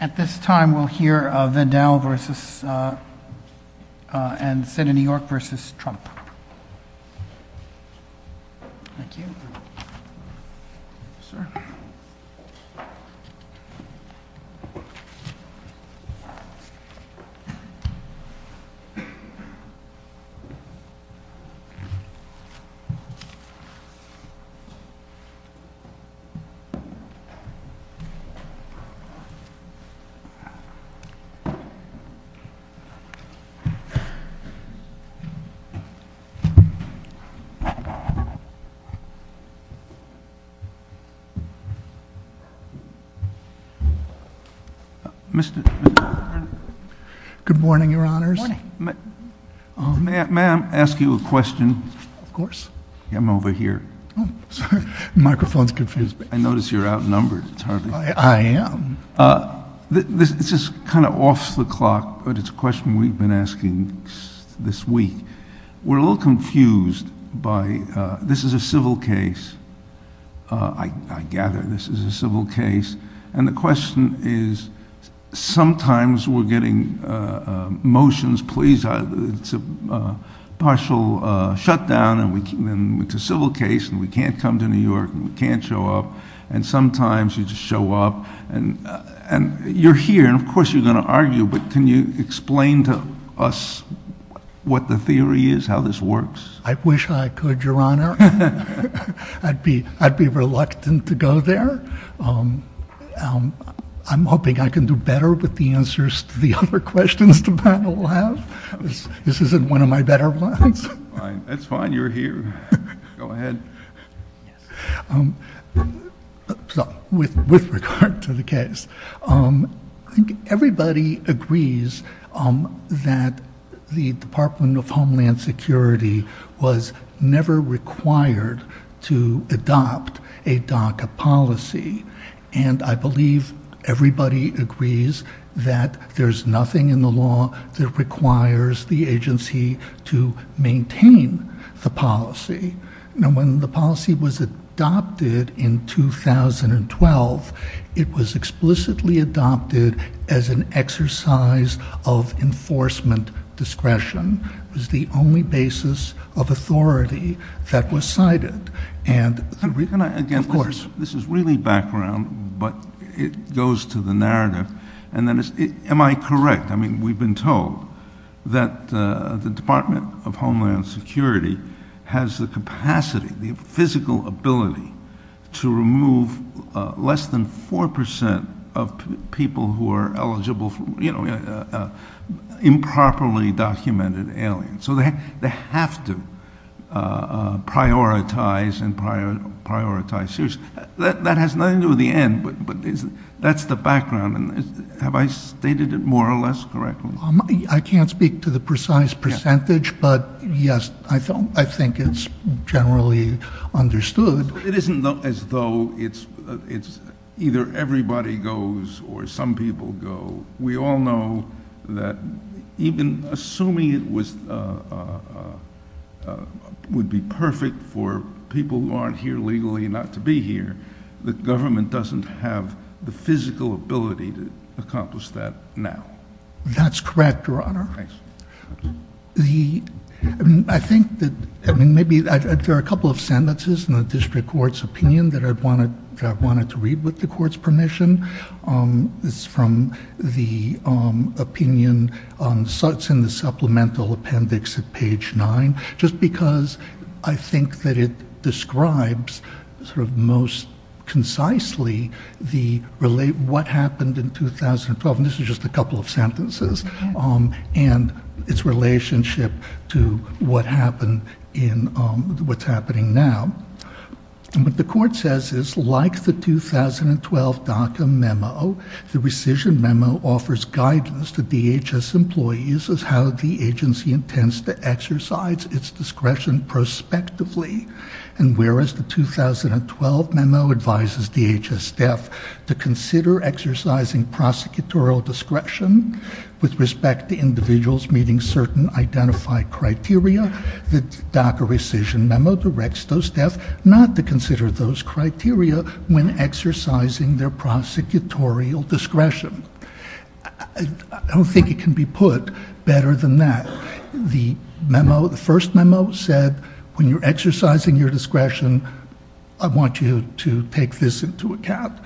At this time we will hear Vidal v. Nielsen and New York v. Trump Mr. President, may I ask you a question? Of course. I'm over here. Oh, sorry. The microphone's confused. I notice you're outnumbered. I am. This is kind of off the clock, but it's a question we've been asking this week. We're a little confused by, this is a civil case. I gather this is a civil case. And the question is, sometimes we're getting motions. It's a partial shutdown, and it's a civil case, and we can't come to New York, and we can't show up. And sometimes you just show up, and you're here, and of course you're going to argue, but can you explain to us what the theory is, how this works? I wish I could, Your Honor. I'd be reluctant to go there. I'm hoping I can do better with the answers to the other questions the panel has. This isn't one of my better ones. That's fine. You're here. Go ahead. With regard to the case, I think everybody agrees that the Department of Homeland Security was never required to adopt a DACA policy. And I believe everybody agrees that there's nothing in the law that requires the agency to maintain the policy. And when the policy was adopted in 2012, it was explicitly adopted as an exercise of enforcement discretion. It was the only basis of authority that was cited. And of course— This is really background, but it goes to the narrative. Am I correct? I mean, we've been told that the Department of Homeland Security has the capacity, the physical ability, to remove less than 4% of people who are eligible, you know, improperly documented aliens. So they have to prioritize and prioritize. That has nothing to do with the end, but that's the background. Have I stated it more or less correctly? I can't speak to the precise percentage, but yes, I think it's generally understood. It isn't as though it's either everybody goes or some people go. We all know that even assuming it would be perfect for people who aren't here legally not to be here, the government doesn't have the physical ability to accomplish that now. That's correct, Your Honor. I think that maybe there are a couple of sentences in the district court's opinion that I wanted to read with the court's permission. It's from the opinion in the supplemental appendix at page 9, just because I think that it describes sort of most concisely what happened in 2012. This is just a couple of sentences and its relationship to what's happening now. What the court says is, like the 2012 DACA memo, the rescission memo offers guidance to DHS employees as how the agency intends to exercise its discretion prospectively, and whereas the 2012 memo advises DHS staff to consider exercising prosecutorial discretion with respect to individuals meeting certain identified criteria, the DACA rescission memo directs those staff not to consider those criteria when exercising their prosecutorial discretion. I don't think it can be put better than that. The first memo said, when you're exercising your discretion, I want you to take this into account.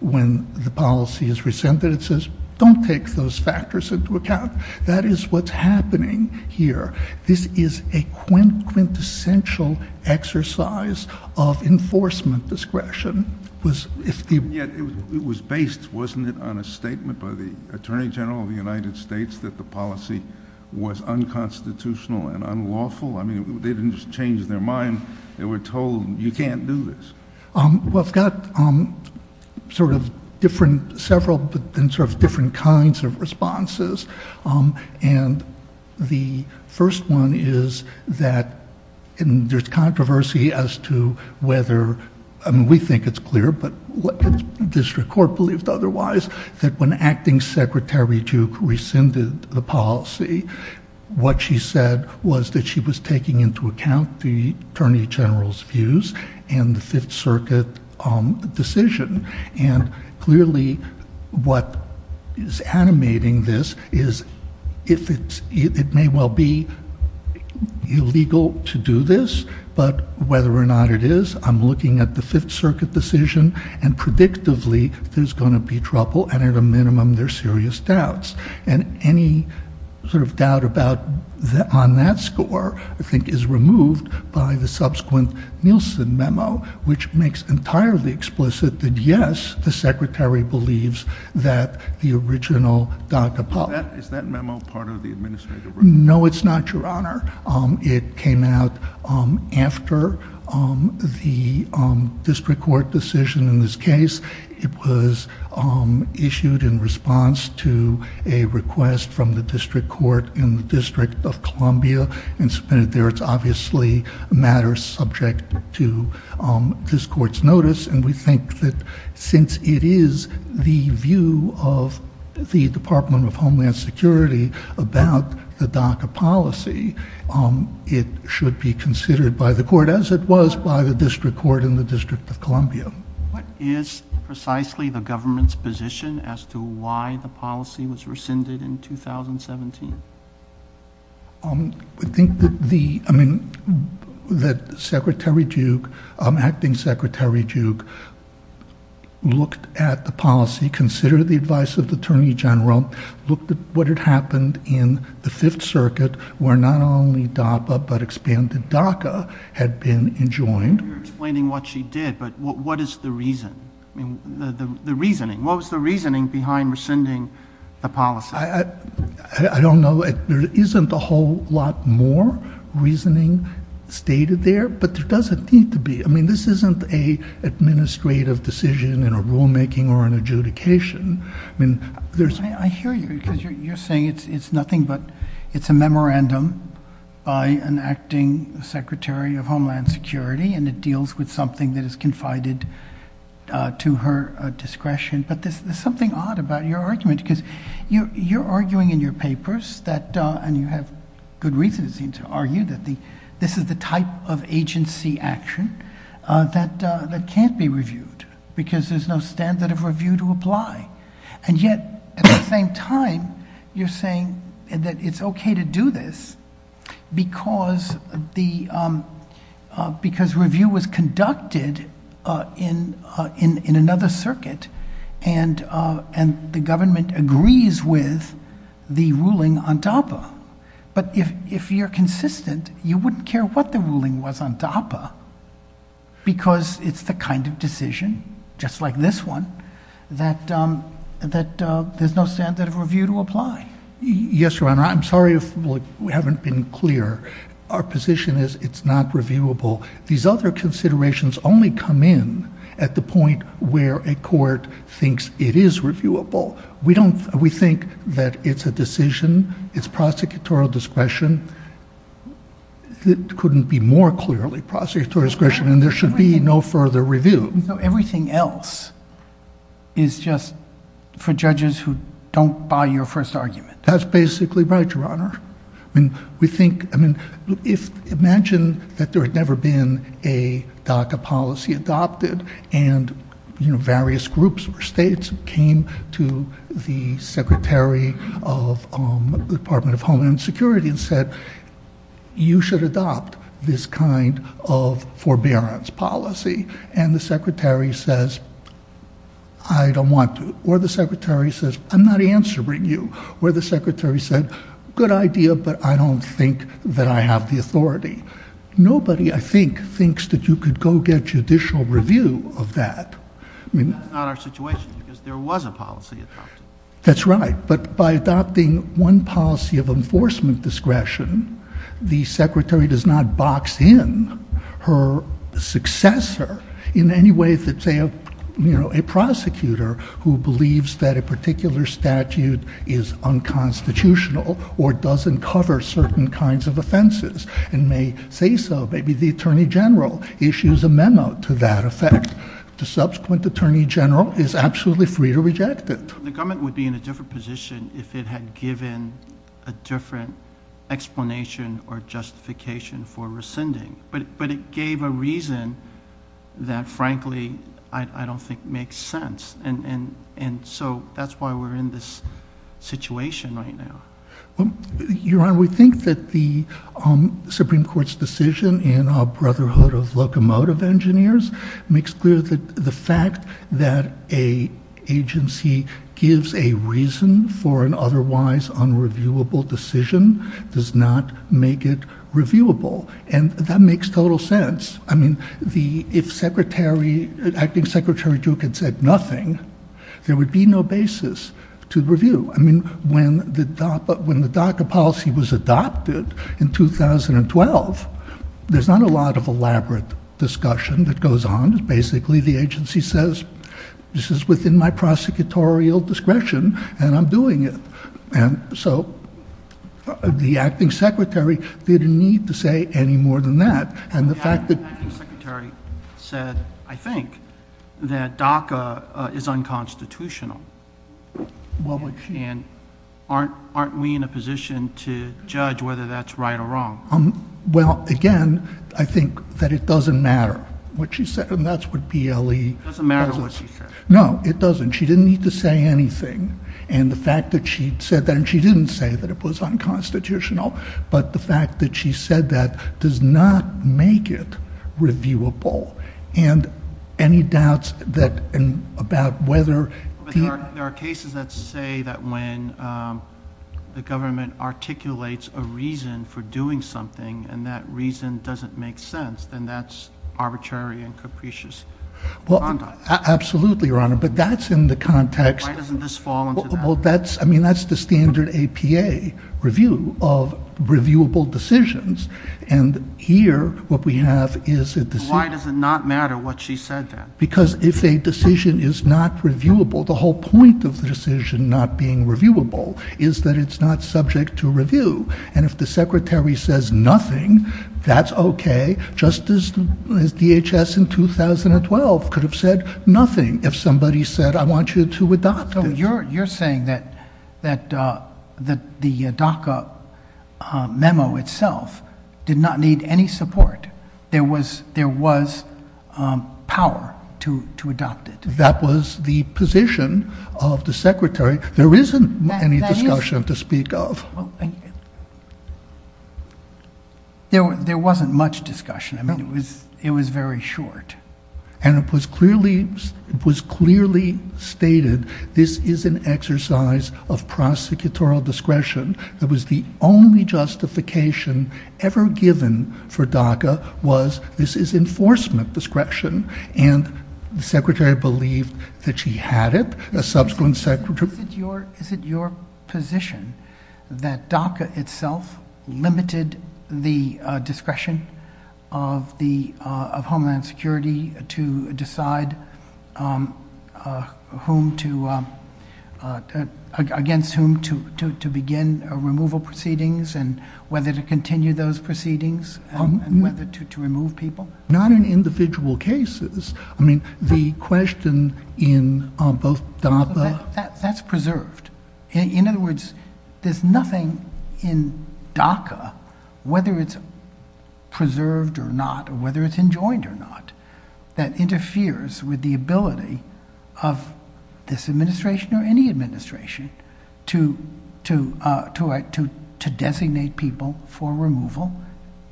When the policy is rescinded, it says, don't take those factors into account. That is what's happening here. This is a quintessential exercise of enforcement discretion. It was based, wasn't it, on a statement by the Attorney General of the United States that the policy was unconstitutional and unlawful? I mean, they didn't just change their mind. They were told, you can't do this. Well, I've got several different kinds of responses. And the first one is that there's controversy as to whether, I mean, we think it's clear, but the district court believed otherwise, that when Acting Secretary Duke rescinded the policy, what she said was that she was taking into account the Attorney General's views and the Fifth Circuit decision. And clearly, what is animating this is, it may well be illegal to do this, but whether or not it is, I'm looking at the Fifth Circuit decision, and predictively, there's going to be trouble, and at a minimum, there's serious doubts. And any sort of doubt on that score, I think, is removed by the subsequent Nielsen memo, which makes entirely explicit that, yes, the Secretary believes that the original DACA policy. Is that memo part of the administrative report? No, it's not, Your Honor. It came out after the district court decision in this case. It was issued in response to a request from the district court in the District of Columbia. It's obviously a matter subject to this court's notice, and we think that since it is the view of the Department of Homeland Security about the DACA policy, it should be considered by the court, as it was by the district court in the District of Columbia. What is precisely the government's position as to why the policy was rescinded in 2017? I think that Secretary Duke, Acting Secretary Duke, looked at the policy, considered the advice of the Attorney General, looked at what had happened in the Fifth Circuit, where not only DAPA but expanded DACA had been enjoined. You're explaining what she did, but what is the reason? I mean, the reasoning. What was the reasoning behind rescinding the policy? I don't know. There isn't a whole lot more reasoning stated there, but there doesn't need to be. I mean, this isn't an administrative decision in a rulemaking or an adjudication. I hear you, because you're saying it's nothing but it's a memorandum by an acting Secretary of Homeland Security, and it deals with something that is confided to her discretion. But there's something odd about your argument, because you're arguing in your papers that, and you have good reasons to argue that this is the type of agency action that can't be reviewed, because there's no standard of review to apply. And yet, at the same time, you're saying that it's okay to do this, because review was conducted in another circuit, and the government agrees with the ruling on DAPA. But if you're consistent, you wouldn't care what the ruling was on DAPA, because it's the kind of decision, just like this one, that there's no standard of review to apply. Yes, Your Honor, I'm sorry if we haven't been clear. Our position is it's not reviewable. These other considerations only come in at the point where a court thinks it is reviewable. We think that it's a decision, it's prosecutorial discretion. It couldn't be more clearly prosecutorial discretion, and there should be no further review. Everything else is just for judges who don't buy your first argument. That's basically right, Your Honor. I mean, imagine that there's never been a DACA policy adopted, and various groups or states came to the Secretary of the Department of Homeland Security and said, you should adopt this kind of forbearance policy. And the Secretary says, I don't want to. Or the Secretary says, I'm not answering you. Or the Secretary said, good idea, but I don't think that I have the authority. Nobody, I think, thinks that you could go get judicial review of that. That's not our situation, because there was a policy. That's right. But by adopting one policy of enforcement discretion, the Secretary does not box in her successor in any way that, say, a prosecutor who believes that a particular statute is unconstitutional or doesn't cover certain kinds of offenses and may say so, maybe the Attorney General issues a memo to that effect. The subsequent Attorney General is absolutely free to reject it. The government would be in a different position if it had given a different explanation or justification for rescinding. But it gave a reason that, frankly, I don't think makes sense. And so that's why we're in this situation right now. Your Honor, we think that the Supreme Court's decision in our Brotherhood of Locomotive Engineers makes clear that the fact that an agency gives a reason for an otherwise unreviewable decision does not make it reviewable. And that makes total sense. I mean, if Acting Secretary Duke had said nothing, there would be no basis to review. I mean, when the DACA policy was adopted in 2012, there's not a lot of elaborate discussion that goes on. Basically, the agency says, this is within my prosecutorial discretion, and I'm doing it. And so the Acting Secretary didn't need to say any more than that. The Acting Secretary said, I think, that DACA is unconstitutional. And aren't we in a position to judge whether that's right or wrong? Well, again, I think that it doesn't matter what she said, and that's what BLE does. It doesn't matter what she said. No, it doesn't. She didn't need to say anything. And the fact that she said that, and she didn't say that it was unconstitutional, but the fact that she said that does not make it reviewable. There are cases that say that when the government articulates a reason for doing something, and that reason doesn't make sense, then that's arbitrary and capricious conduct. Absolutely, Your Honor, but that's in the context. Why doesn't this fall into that? I mean, that's the standard APA review of reviewable decisions, and here what we have is a decision. Why does it not matter what she said then? Because if a decision is not reviewable, the whole point of the decision not being reviewable is that it's not subject to review. And if the Secretary says nothing, that's okay, just as DHS in 2012 could have said nothing if somebody said, I want you to adopt it. You're saying that the DACA memo itself did not need any support. There was power to adopt it. That was the position of the Secretary. There isn't any discussion to speak of. Oh, thank you. There wasn't much discussion. I mean, it was very short. And it was clearly stated, this is an exercise of prosecutorial discretion. It was the only justification ever given for DACA was this is enforcement discretion, and the Secretary believed that she had it. A subsequent Secretary... Is it your position that DACA itself limited the discretion of Homeland Security to decide against whom to begin removal proceedings and whether to continue those proceedings and whether to remove people? Not in individual cases. I mean, the question in both... That's preserved. In other words, there's nothing in DACA, whether it's preserved or not, whether it's enjoined or not, that interferes with the ability of this administration or any administration to designate people for removal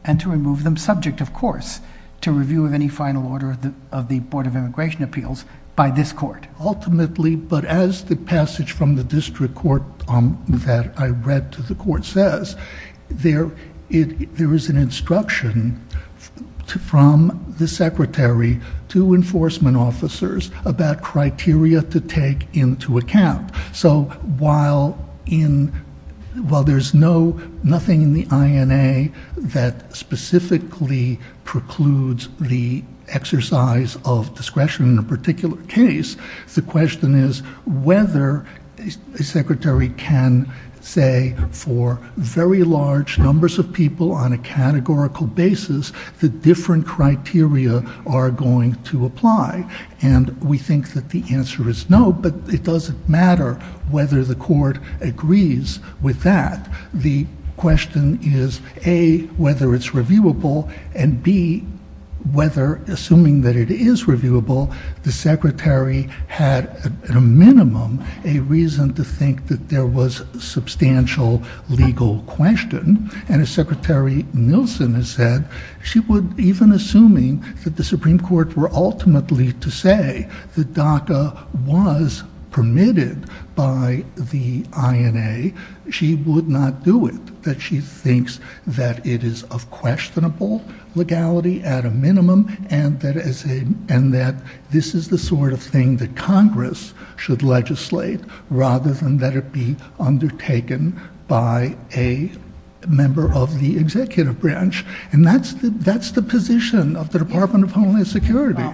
and to remove them, subject, of course, to review of any final order of the Board of Immigration Appeals by this court. Ultimately, but as the passage from the district court that I read to the court says, there is an instruction from the Secretary to enforcement officers about criteria to take into account. So while there's nothing in the INA that specifically precludes the exercise of discretion in a particular case, the question is whether a Secretary can say for very large numbers of people on a categorical basis the different criteria are going to apply. And we think that the answer is no, but it doesn't matter whether the court agrees with that. The question is, A, whether it's reviewable, and, B, whether, assuming that it is reviewable, the Secretary had, at a minimum, a reason to think that there was substantial legal question. And as Secretary Nielsen has said, she would, even assuming that the Supreme Court were ultimately to say that DACA was permitted by the INA, she would not do it. She thinks that it is of questionable legality, at a minimum, and that this is the sort of thing that Congress should legislate rather than that it be undertaken by a member of the executive branch. And that's the position of the Department of Homeland Security.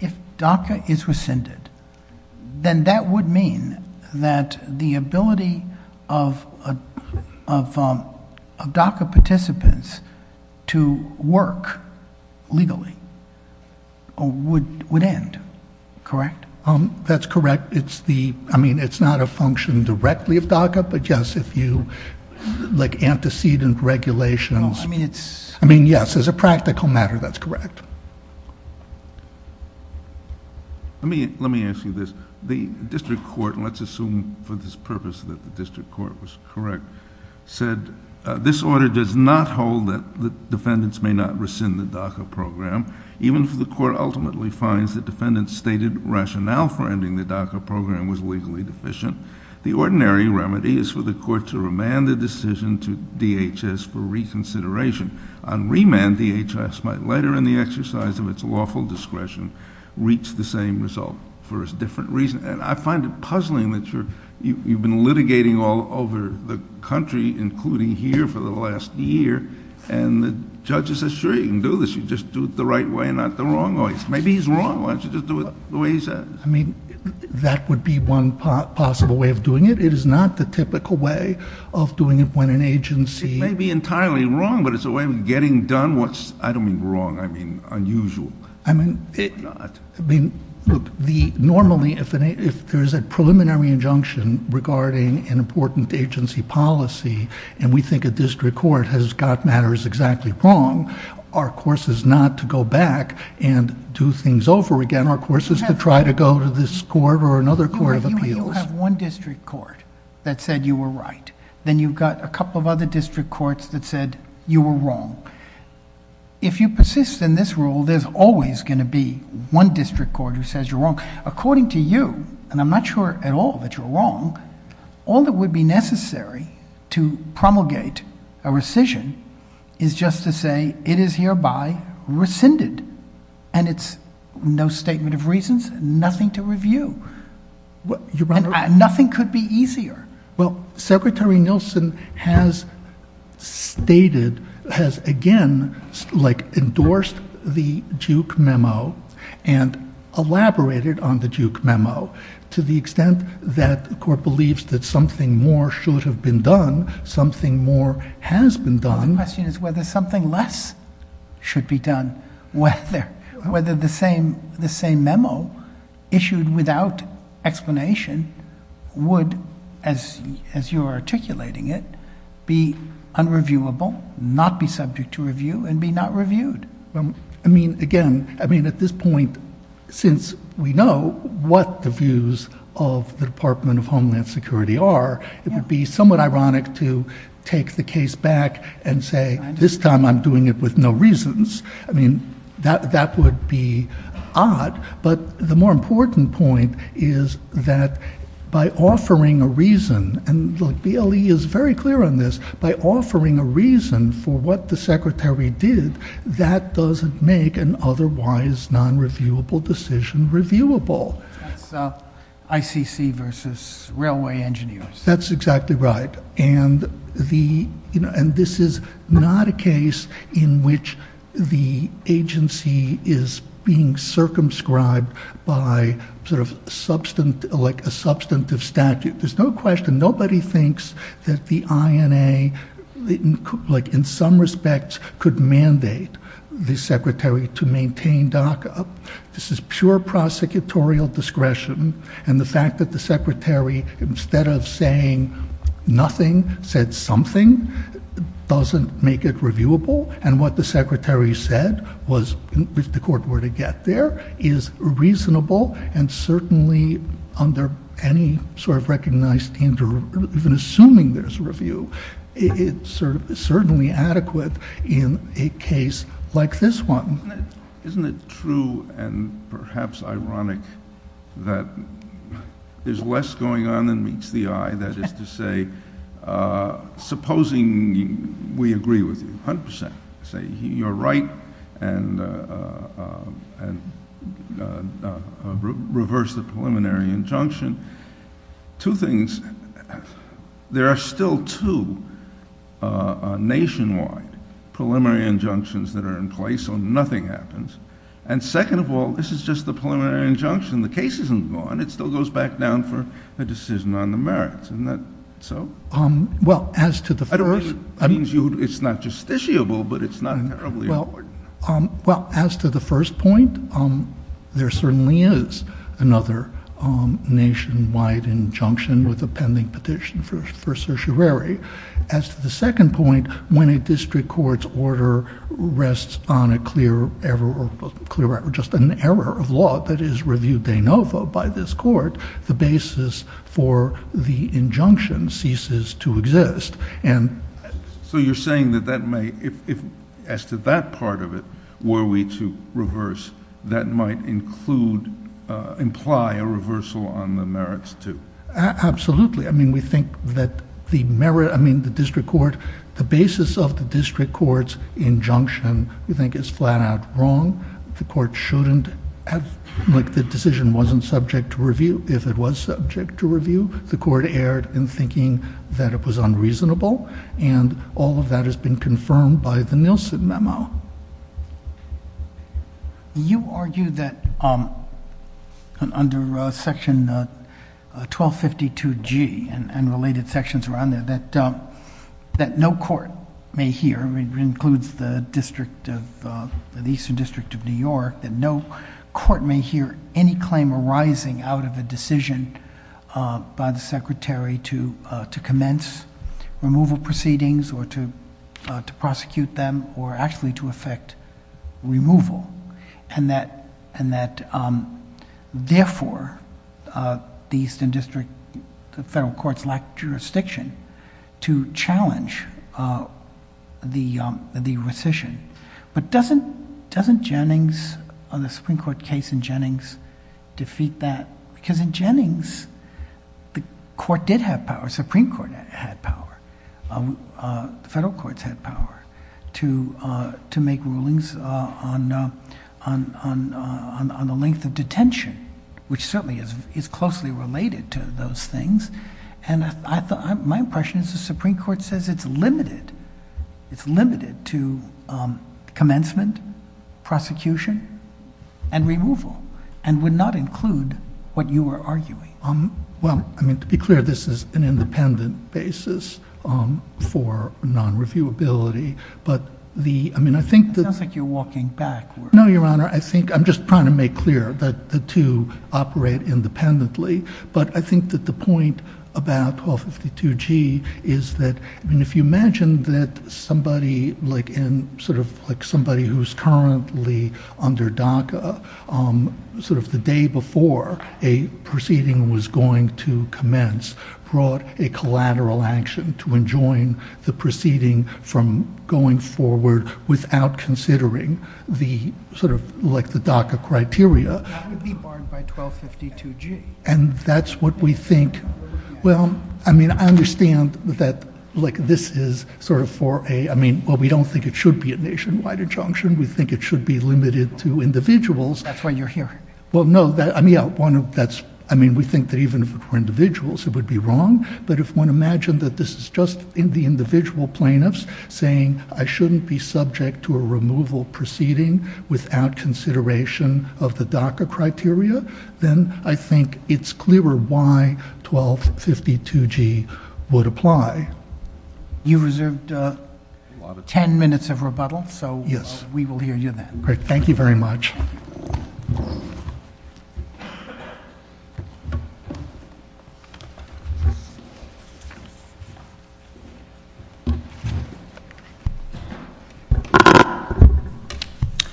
If DACA is rescinded, then that would mean that the ability of DACA participants to work legally would end, correct? That's correct. It's the, I mean, it's not a function directly of DACA, but just if you, like, antecedent regulation. I mean, yes, as a practical matter, that's correct. Let me ask you this. The district court, and let's assume for this purpose that the district court was correct, said, this order does not hold that defendants may not rescind the DACA program, even if the court ultimately finds that defendants stated rationale finding the DACA program was legally deficient. The ordinary remedy is for the court to remand the decision to DHS for reconsideration. On remand, DHS might later, in the exercise of its lawful discretion, reach the same result for a different reason. And I find it puzzling that you've been litigating all over the country, including here, for the last year, and the judge says, sure, you can do this. You just do it the right way, not the wrong way. Maybe he's wrong. Why don't you just do it the way he says? I mean, that would be one possible way of doing it. It is not the typical way of doing it when an agency... It may be entirely wrong, but it's a way of getting done what's, I don't mean wrong, I mean unusual. I mean, normally, if there's a preliminary injunction regarding an important agency policy, and we think a district court has got matters exactly wrong, our course is not to go back and do things over again. Our course is to try to go to this court or another court of appeals. You have one district court that said you were right. Then you've got a couple of other district courts that said you were wrong. If you persist in this rule, there's always going to be one district court who says you're wrong. According to you, and I'm not sure at all that you're wrong, all that would be necessary to promulgate a rescission is just to say it is hereby rescinded, and it's no statement of reasons, nothing to review. Nothing could be easier. Well, Secretary Nielsen has stated, has again, like, endorsed the Duke memo and elaborated on the Duke memo to the extent that the court believes that something more should have been done, something more has been done. My question is whether something less should be done. Whether the same memo issued without explanation would, as you are articulating it, be unreviewable, not be subject to review, and be not reviewed. I mean, again, I mean, at this point, since we know what the views of the Department of Homeland Security are, it would be somewhat ironic to take the case back and say, this time I'm doing it with no reasons. I mean, that would be odd, but the more important point is that by offering a reason, and the DLE is very clear on this, by offering a reason for what the Secretary did, that doesn't make an otherwise non-reviewable decision reviewable. ICC versus railway engineers. That's exactly right. And this is not a case in which the agency is being circumscribed by sort of like a substantive statute. There's no question. Nobody thinks that the INA, like in some respects, could mandate the Secretary to maintain DACA. This is pure prosecutorial discretion. And the fact that the Secretary, instead of saying nothing, said something, doesn't make it reviewable. And what the Secretary said was, if the court were to get there, is reasonable, and certainly under any sort of recognized danger, even assuming there's a review, it's certainly adequate in a case like this one. Isn't it true, and perhaps ironic, that there's less going on than meets the eye? That is to say, supposing we agree with you 100%, say you're right, and reverse the preliminary injunction. Two things. There are still two nationwide preliminary injunctions that are in place. So nothing happens. And second of all, this is just the preliminary injunction. The case isn't gone. It still goes back down for the decision on the merits. Isn't that so? Well, as to the first point, there certainly is another nationwide injunction with a pending petition for certiorari. As to the second point, when a district court's order rests on a clear error, just an error of law that is reviewed de novo by this court, the basis for the injunction ceases to exist. So you're saying that that may, as to that part of it, were we to reverse, that might imply a reversal on the merits, too? Absolutely. I mean, we think that the merit, I mean, the district court, the basis of the district court's injunction, we think is flat out wrong. The court shouldn't have, like, the decision wasn't subject to review. If it was subject to review, the court erred in thinking that it was unreasonable. And all of that has been confirmed by the Nielsen memo. You argue that under Section 1252G and related sections around there, that no court may hear, I mean, it includes the District of, the Eastern District of New York, that no court may hear any claim arising out of a decision by the Secretary to commence removal proceedings or to prosecute them or actually to effect removal. And that, therefore, the Eastern District, the federal courts lack jurisdiction to challenge the rescission. But doesn't Jennings, the Supreme Court case in Jennings, defeat that? Because in Jennings, the court did have power. The Supreme Court had power. Federal courts had power to make rulings on the length of detention, which certainly is closely related to those things. And my impression is the Supreme Court says it's limited, it's limited to commencement, prosecution, and removal and would not include what you were arguing. Well, I mean, to be clear, this is an independent basis for non-reviewability, but the, I mean, I think that It's not like you're walking backwards. No, Your Honor, I think, I'm just trying to make clear that the two operate independently, but I think that the point about 1252G is that, I mean, if you imagine that somebody like in, sort of the day before a proceeding was going to commence brought a collateral action to enjoin the proceeding from going forward without considering the sort of like the DACA criteria. That would be barred by 1252G. And that's what we think. Well, I mean, I understand that like this is sort of for a, I mean, but we don't think it should be a nationwide injunction. We think it should be limited to individuals. That's what you're hearing. Well, no, I mean, yeah, one of that's, I mean, we think that even for individuals it would be wrong, but if one imagined that this is just in the individual plaintiffs saying, I shouldn't be subject to a removal proceeding without consideration of the DACA criteria, then I think it's clearer why 1252G would apply. You reserved 10 minutes of rebuttal, so we will hear you then. Great. Thank you very much.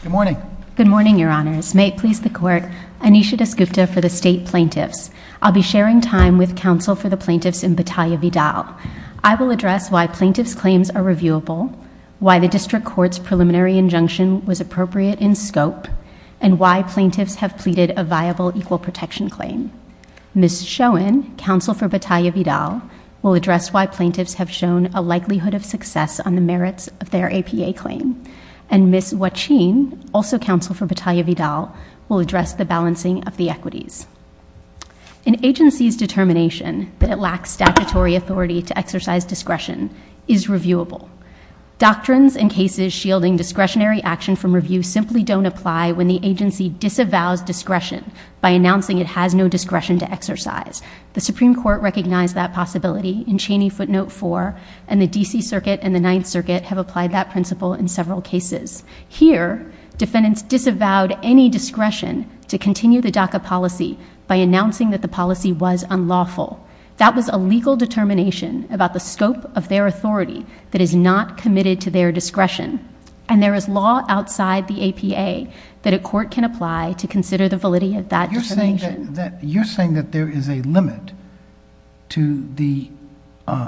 Good morning. Good morning, Your Honors. May it please the Court, Anisha Desgupta for the state plaintiffs. I'll be sharing time with counsel for the plaintiffs in Battaglia Vidal. I will address why plaintiff's claims are reviewable, why the district court's preliminary injunction was appropriate in scope, and why plaintiffs have pleaded a viable equal protection claim. Ms. Schoen, counsel for Battaglia Vidal, will address why plaintiffs have shown a likelihood of success on the merits of their APA claim. And Ms. Wacheen, also counsel for Battaglia Vidal, will address the balancing of the equities. An agency's determination that it lacks statutory authority to exercise discretion is reviewable. Doctrines and cases shielding discretionary action from review simply don't apply when the agency disavows discretion by announcing it has no discretion to exercise. The Supreme Court recognized that possibility in Cheney Footnote 4, and the D.C. Circuit and the Ninth Circuit have applied that principle in several cases. Here, defendants disavowed any discretion to continue the DACA policy by announcing that the policy was unlawful. That was a legal determination about the scope of their authority that is not committed to their discretion. And there is law outside the APA that a court can apply to consider the validity of that determination. You're saying that there is a limit to the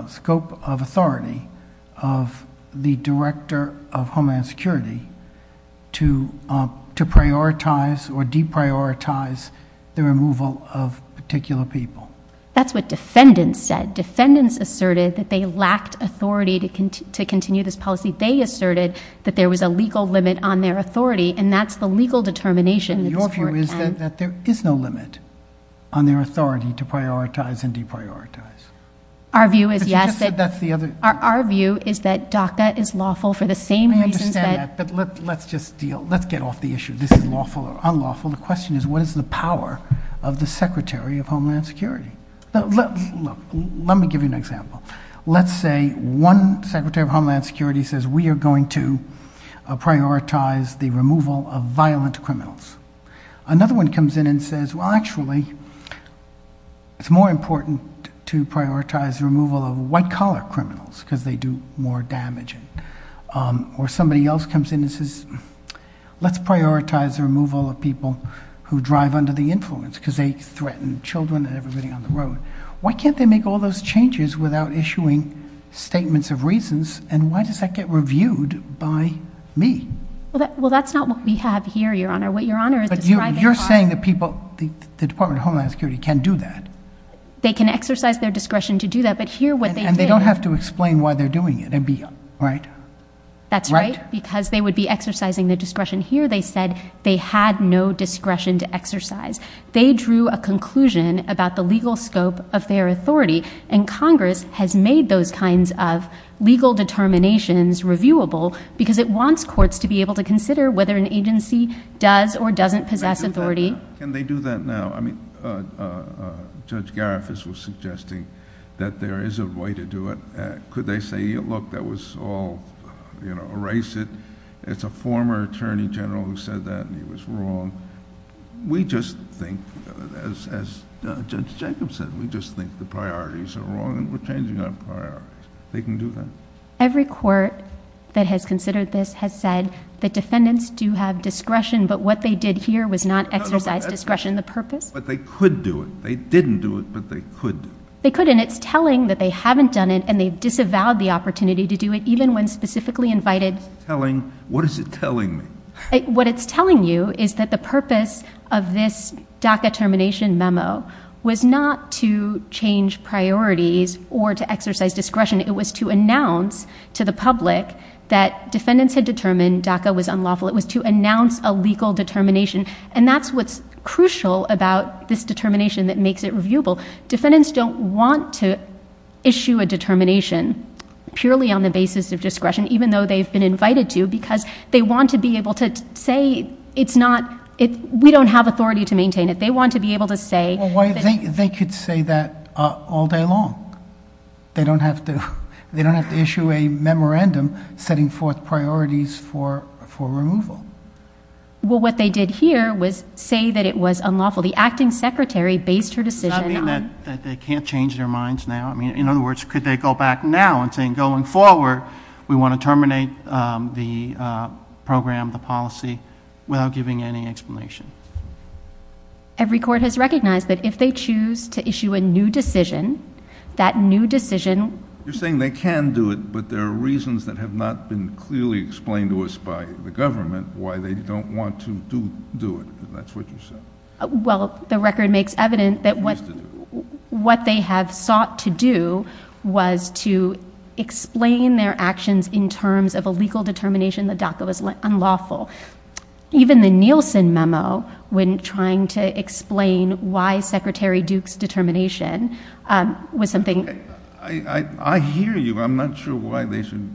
scope of authority of the director of Homeland Security to prioritize or deprioritize the removal of particular people. That's what defendants said. Defendants asserted that they lacked authority to continue this policy. They asserted that there was a legal limit on their authority, and that's the legal determination. Your view is that there is no limit on their authority to prioritize and deprioritize. Our view is yes, but our view is that DACA is lawful for the same reasons that... I understand that, but let's get off the issue of this is lawful or unlawful. The question is, what is the power of the Secretary of Homeland Security? Let me give you an example. Let's say one Secretary of Homeland Security says, we are going to prioritize the removal of violent criminals. Another one comes in and says, well actually, it's more important to prioritize the removal of white-collar criminals because they do more damage. Or somebody else comes in and says, let's prioritize the removal of people who drive under the influence because they threaten children and everybody on the road. Why can't they make all those changes without issuing statements of reasons, and why does that get reviewed by me? Well, that's not what we have here, Your Honor. But you're saying that the Department of Homeland Security can do that. They can exercise their discretion to do that, but here what they do... And they don't have to explain why they're doing it, right? That's right, because they would be exercising their discretion. Here they said they had no discretion to exercise. They drew a conclusion about the legal scope of their authority, and Congress has made those kinds of legal determinations reviewable because it wants courts to be able to consider whether an agency does or doesn't possess authority. Can they do that now? I mean, Judge Garifas was suggesting that there is a way to do it. Could they say, look, that was all, you know, erase it. It's a former attorney general who said that, and he was wrong. We just think, as Judge Jacobson, we just think the priorities are wrong, and we're changing that priority. They can do that. Every court that has considered this has said that defendants do have discretion, but what they did here was not exercise discretion. The purpose? But they could do it. They didn't do it, but they could. They could, and it's telling that they haven't done it, and they disavowed the opportunity to do it even when specifically invited. What is it telling me? What it's telling you is that the purpose of this DACA termination memo was not to change priorities or to exercise discretion. It was to announce to the public that defendants had determined DACA was unlawful. It was to announce a legal determination, and that's what's crucial about this determination that makes it reviewable. Defendants don't want to issue a determination purely on the basis of discretion, even though they've been invited to, because they want to be able to say it's not – we don't have authority to maintain it. They want to be able to say – Well, they could say that all day long. They don't have to issue a memorandum setting forth priorities for removal. Well, what they did here was say that it was unlawful. The acting secretary based her decision on – Not that they can't change their minds now. I mean, in other words, could they go back now and say, going forward, we want to terminate the program, the policy, without giving any explanation? Every court has recognized that if they choose to issue a new decision, that new decision – You're saying they can do it, but there are reasons that have not been clearly explained to us by the government why they don't want to do it, and that's what you said. Well, the record makes evident that what they had sought to do was to explain their actions in terms of a legal determination that DACA was unlawful. Even the Nielsen memo, when trying to explain why Secretary Duke's determination was something – I hear you. I'm not sure why they should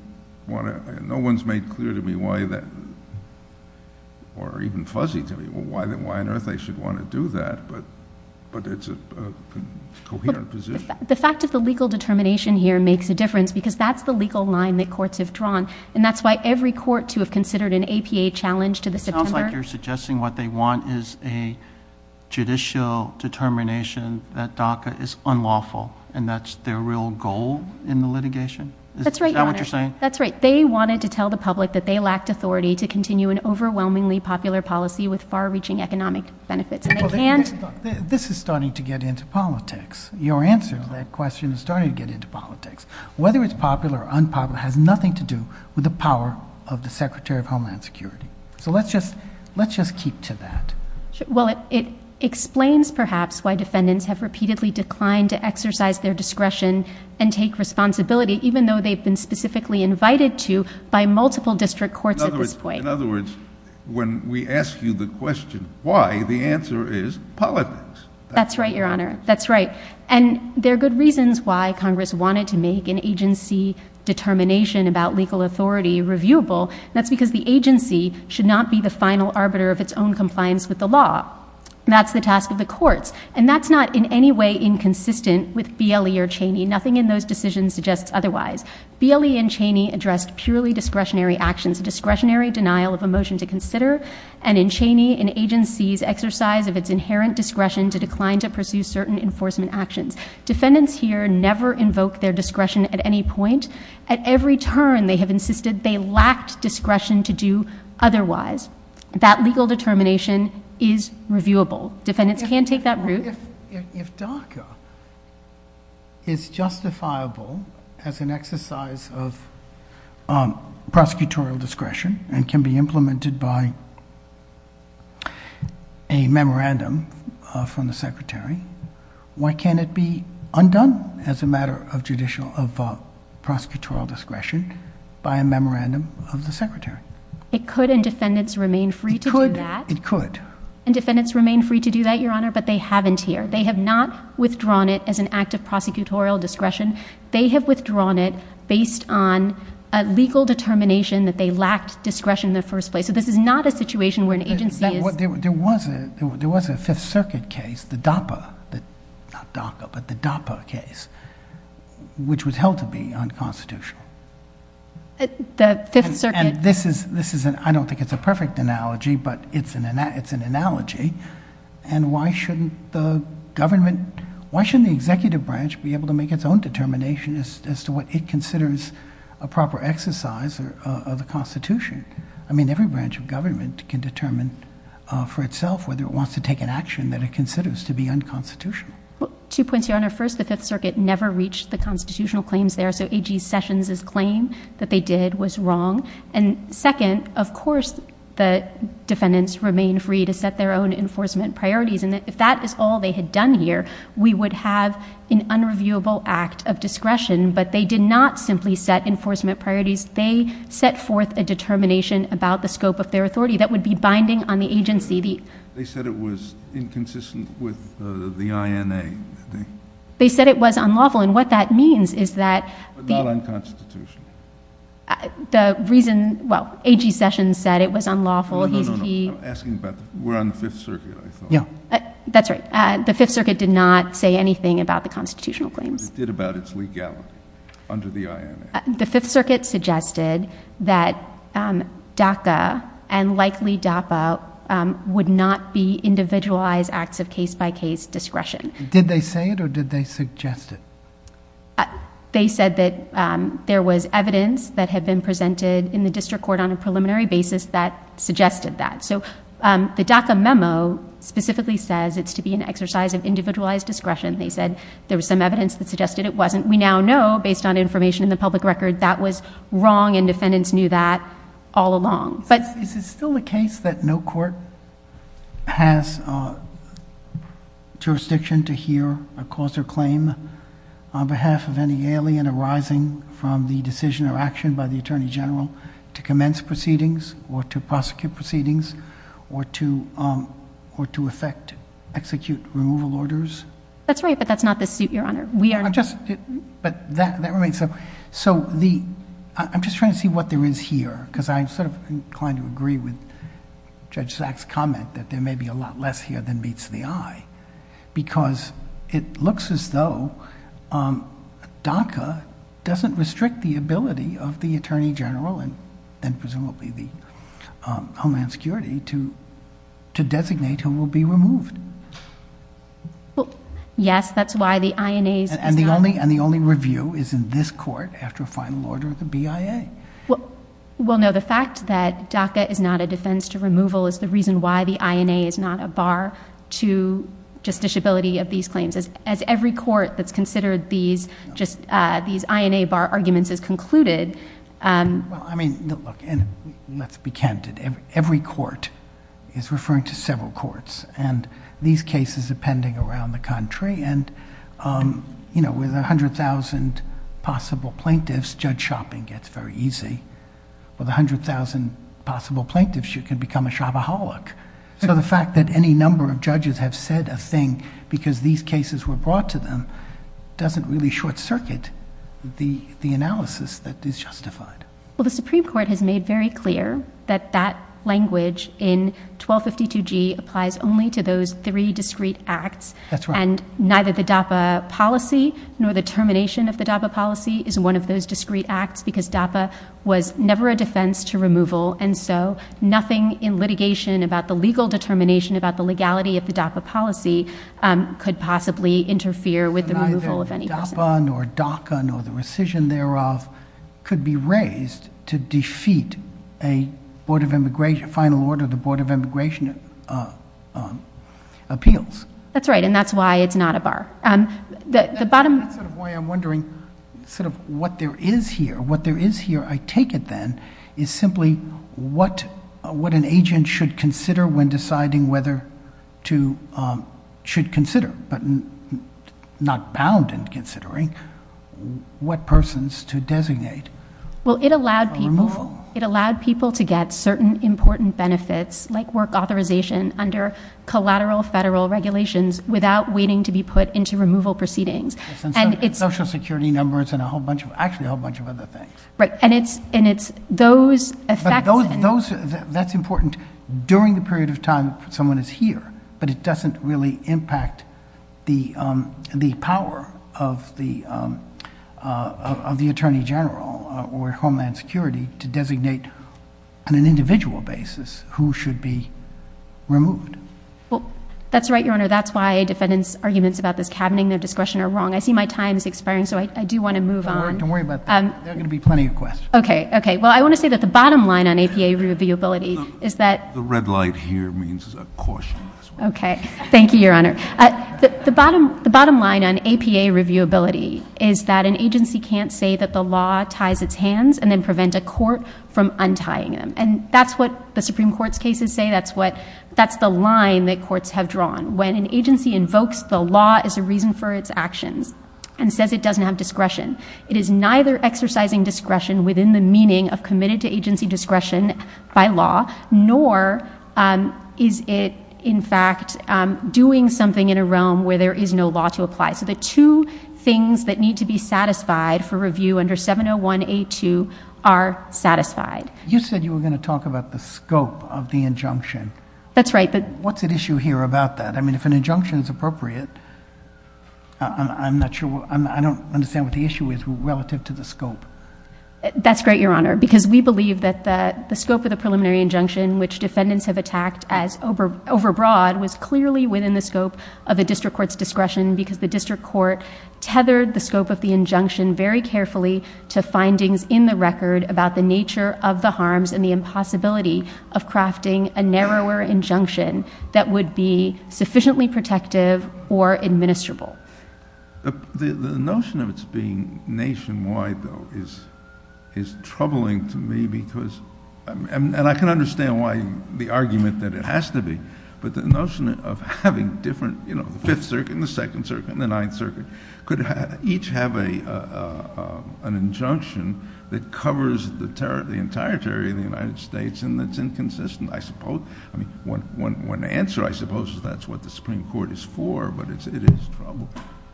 want to – No one's made clear to me why that – or even fuzzy to me why on earth they should want to do that, but it's a coherent position. The fact that the legal determination here makes a difference because that's the legal line that courts have drawn, and that's why every court to have considered an APA challenge to the defender – It sounds like you're suggesting what they want is a judicial determination that DACA is unlawful, and that's their real goal in the litigation? That's right. Is that what you're saying? That's right. They wanted to tell the public that they lacked authority to continue an overwhelmingly popular policy with far-reaching economic benefits. This is starting to get into politics. Your answer to that question is starting to get into politics. Whether it's popular or unpopular has nothing to do with the power of the Secretary of Homeland Security. So let's just keep to that. Well, it explains perhaps why defendants have repeatedly declined to exercise their discretion and take responsibility, even though they've been specifically invited to by multiple district courts at this point. In other words, when we ask you the question why, the answer is politics. That's right, Your Honor. That's right. And there are good reasons why Congress wanted to make an agency determination about legal authority reviewable. That's because the agency should not be the final arbiter of its own compliance with the law. That's the task of the courts, and that's not in any way inconsistent with BLE or Cheney. Nothing in those decisions suggests otherwise. BLE and Cheney addressed purely discretionary actions, a discretionary denial of a motion to consider, and in Cheney, an agency's exercise of its inherent discretion to decline to pursue certain enforcement actions. Defendants here never invoke their discretion at any point. At every turn, they have insisted they lacked discretion to do otherwise. That legal determination is reviewable. Defendants can take that route. If DACA is justifiable as an exercise of prosecutorial discretion and can be implemented by a memorandum from the Secretary, why can't it be undone as a matter of prosecutorial discretion by a memorandum of the Secretary? It could, and defendants remain free to do that. It could. It could. They have not withdrawn it as an act of prosecutorial discretion. They have withdrawn it based on a legal determination that they lacked discretion in the first place. So this is not a situation where an agency is— There was a Fifth Circuit case, the DAPA, not DACA, but the DAPA case, which was held to be unconstitutional. The Fifth Circuit— And this is—I don't think it's a perfect analogy, but it's an analogy. And why shouldn't the government—why shouldn't the executive branch be able to make its own determination as to what it considers a proper exercise of the Constitution? I mean, every branch of government can determine for itself whether it wants to take an action that it considers to be unconstitutional. Two points here. First, the Fifth Circuit never reached the constitutional claims there. So A.G. Sessions' claim that they did was wrong. And second, of course, the defendants remain free to set their own enforcement priorities. And if that is all they had done here, we would have an unreviewable act of discretion. But they did not simply set enforcement priorities. They set forth a determination about the scope of their authority that would be binding on the agency. They said it was inconsistent with the INA. They said it was unlawful. And what that means is that— But not unconstitutional. The reason—well, A.G. Sessions said it was unlawful. No, no, no, no. I'm asking about—we're on the Fifth Circuit. Yeah. That's right. The Fifth Circuit did not say anything about the constitutional claims. But it did about its legality under the INA. The Fifth Circuit suggested that DAPA and likely DAPA would not be individualized acts of case-by-case discretion. Did they say it, or did they suggest it? They said that there was evidence that had been presented in the district court on a preliminary basis that suggested that. So the DACA memo specifically says it's to be an exercise of individualized discretion. They said there was some evidence that suggested it wasn't. We now know, based on information in the public record, that was wrong, and defendants knew that all along. Is it still the case that no court has jurisdiction to hear a cause or claim on behalf of any alien arising from the decision or action by the attorney general to commence proceedings or to prosecute proceedings or to effect—execute removal orders? That's right, but that's not the suit, Your Honor. We are just— So the—I'm just trying to see what there is here, because I'm sort of inclined to agree with Judge Zack's comment that there may be a lot less here than meets the eye. Because it looks as though DACA doesn't restrict the ability of the attorney general and presumably the homeland security to designate who will be removed. Well, yes, that's why the INA's— And the only review is in this court after a final order of the BIA. Well, no, the fact that DACA is not a defense to removal is the reason why the INA is not a bar to justiciability of these claims. As every court that's considered these INA bar arguments is concluded— Well, I mean, look, and let's be candid. Every court is referring to several courts, and these cases are pending around the country. And, you know, with 100,000 possible plaintiffs, judge shopping gets very easy. With 100,000 possible plaintiffs, you can become a shopaholic. So the fact that any number of judges have said a thing because these cases were brought to them doesn't really short-circuit the analysis that is justified. Well, the Supreme Court has made very clear that that language in 1252G applies only to those three discrete acts. That's right. And neither the DAPA policy nor the termination of the DAPA policy is one of those discrete acts because DAPA was never a defense to removal. And so nothing in litigation about the legal determination about the legality of the DAPA policy could possibly interfere with the removal of any— Neither the DAPA nor DACA nor the rescission thereof could be raised to defeat a final order of the Board of Immigration Appeals. That's right, and that's why it's not a bar. That's sort of why I'm wondering sort of what there is here. What there is here, I take it then, is simply what an agent should consider when deciding whether to—should consider, but not bound in considering, what persons to designate for removal. It allowed people to get certain important benefits like work authorization under collateral federal regulations without waiting to be put into removal proceedings. Social security numbers and a whole bunch of—actually a whole bunch of other things. Right, and it's those— on an individual basis who should be removed. That's right, Your Honor. That's why defendants' arguments about this cabinet and their discretion are wrong. I see my time is expiring, so I do want to move on. Don't worry about that. There are going to be plenty of questions. Okay, okay. Well, I want to say that the bottom line on APA reviewability is that— The red light here means caution. Okay. Thank you, Your Honor. The bottom line on APA reviewability is that an agency can't say that the law ties its hands and then prevent a court from untying them. And that's what the Supreme Court's cases say. That's what—that's the line that courts have drawn. When an agency invokes the law as a reason for its action and says it doesn't have discretion, it is neither exercising discretion within the meaning of committed to agency discretion by law, nor is it, in fact, doing something in a realm where there is no law to apply. So the two things that need to be satisfied for review under 701A2 are satisfied. You said you were going to talk about the scope of the injunction. That's right, but— What's at issue here about that? I mean, if an injunction is appropriate, I'm not sure— I don't understand what the issue is relative to the scope. That's great, Your Honor, because we believe that the scope of the preliminary injunction, which defendants have attacked as overbroad, was clearly within the scope of a district court's discretion because the district court tethered the scope of the injunction very carefully to findings in the record about the nature of the harms and the impossibility of crafting a narrower injunction that would be sufficiently protective or administrable. The notion of its being nationwide, though, is troubling to me because— and I can understand why—the argument that it has to be, but the notion of having different—you know, the Fifth Circuit and the Second Circuit and the Ninth Circuit could each have an injunction that covers the entire territory of the United States, and that's inconsistent, I suppose. I mean, one answer, I suppose, is that's what the Supreme Court is for, but it is troubling.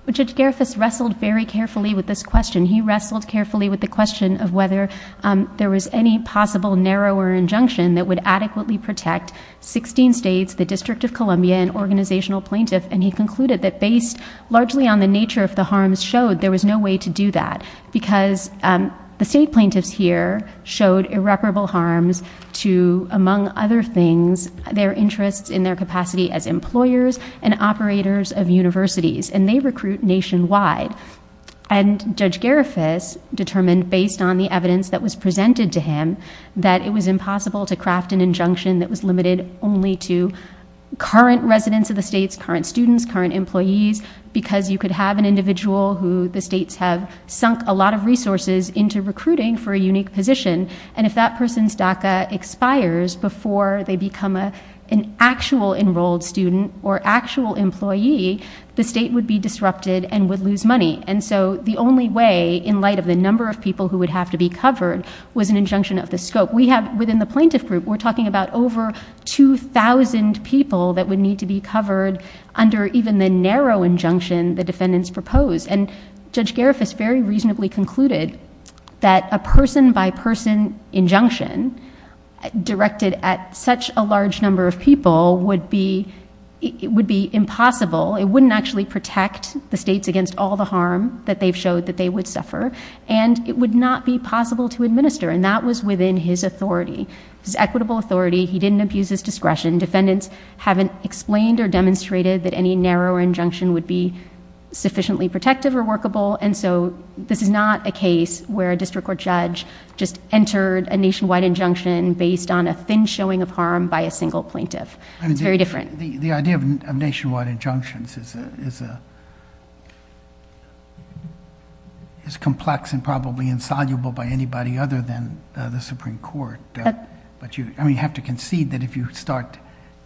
But Judge Gerefis wrestled very carefully with this question. He wrestled carefully with the question of whether there was any possible narrower injunction that would adequately protect 16 states, the District of Columbia, and organizational plaintiffs, and he concluded that based largely on the nature of the harms showed, there was no way to do that because the state plaintiffs here showed irreparable harms to, among other things, their interests in their capacity as employers and operators of universities, and they recruit nationwide. And Judge Gerefis determined, based on the evidence that was presented to him, that it was impossible to craft an injunction that was limited only to current residents of the states, current students, current employees, because you could have an individual who the states have sunk a lot of resources into recruiting for a unique position, and if that person's DACA expires before they become an actual enrolled student or actual employee, the state would be disrupted and would lose money. And so the only way, in light of the number of people who would have to be covered, was an injunction of the scope. We have, within the plaintiff group, we're talking about over 2,000 people that would need to be covered under even the narrow injunction the defendants proposed. And Judge Gerefis very reasonably concluded that a person-by-person injunction directed at such a large number of people would be impossible. It wouldn't actually protect the states against all the harm that they've showed that they would suffer, and it would not be possible to administer, and that was within his authority, his equitable authority. He didn't abuse his discretion. Defendants haven't explained or demonstrated that any narrower injunction would be sufficiently protective or workable, and so this is not a case where a district court judge just entered a nationwide injunction based on a thin showing of harm by a single plaintiff. It's very different. The idea of nationwide injunctions is complex and probably insoluble by anybody other than the Supreme Court. But you have to concede that if you start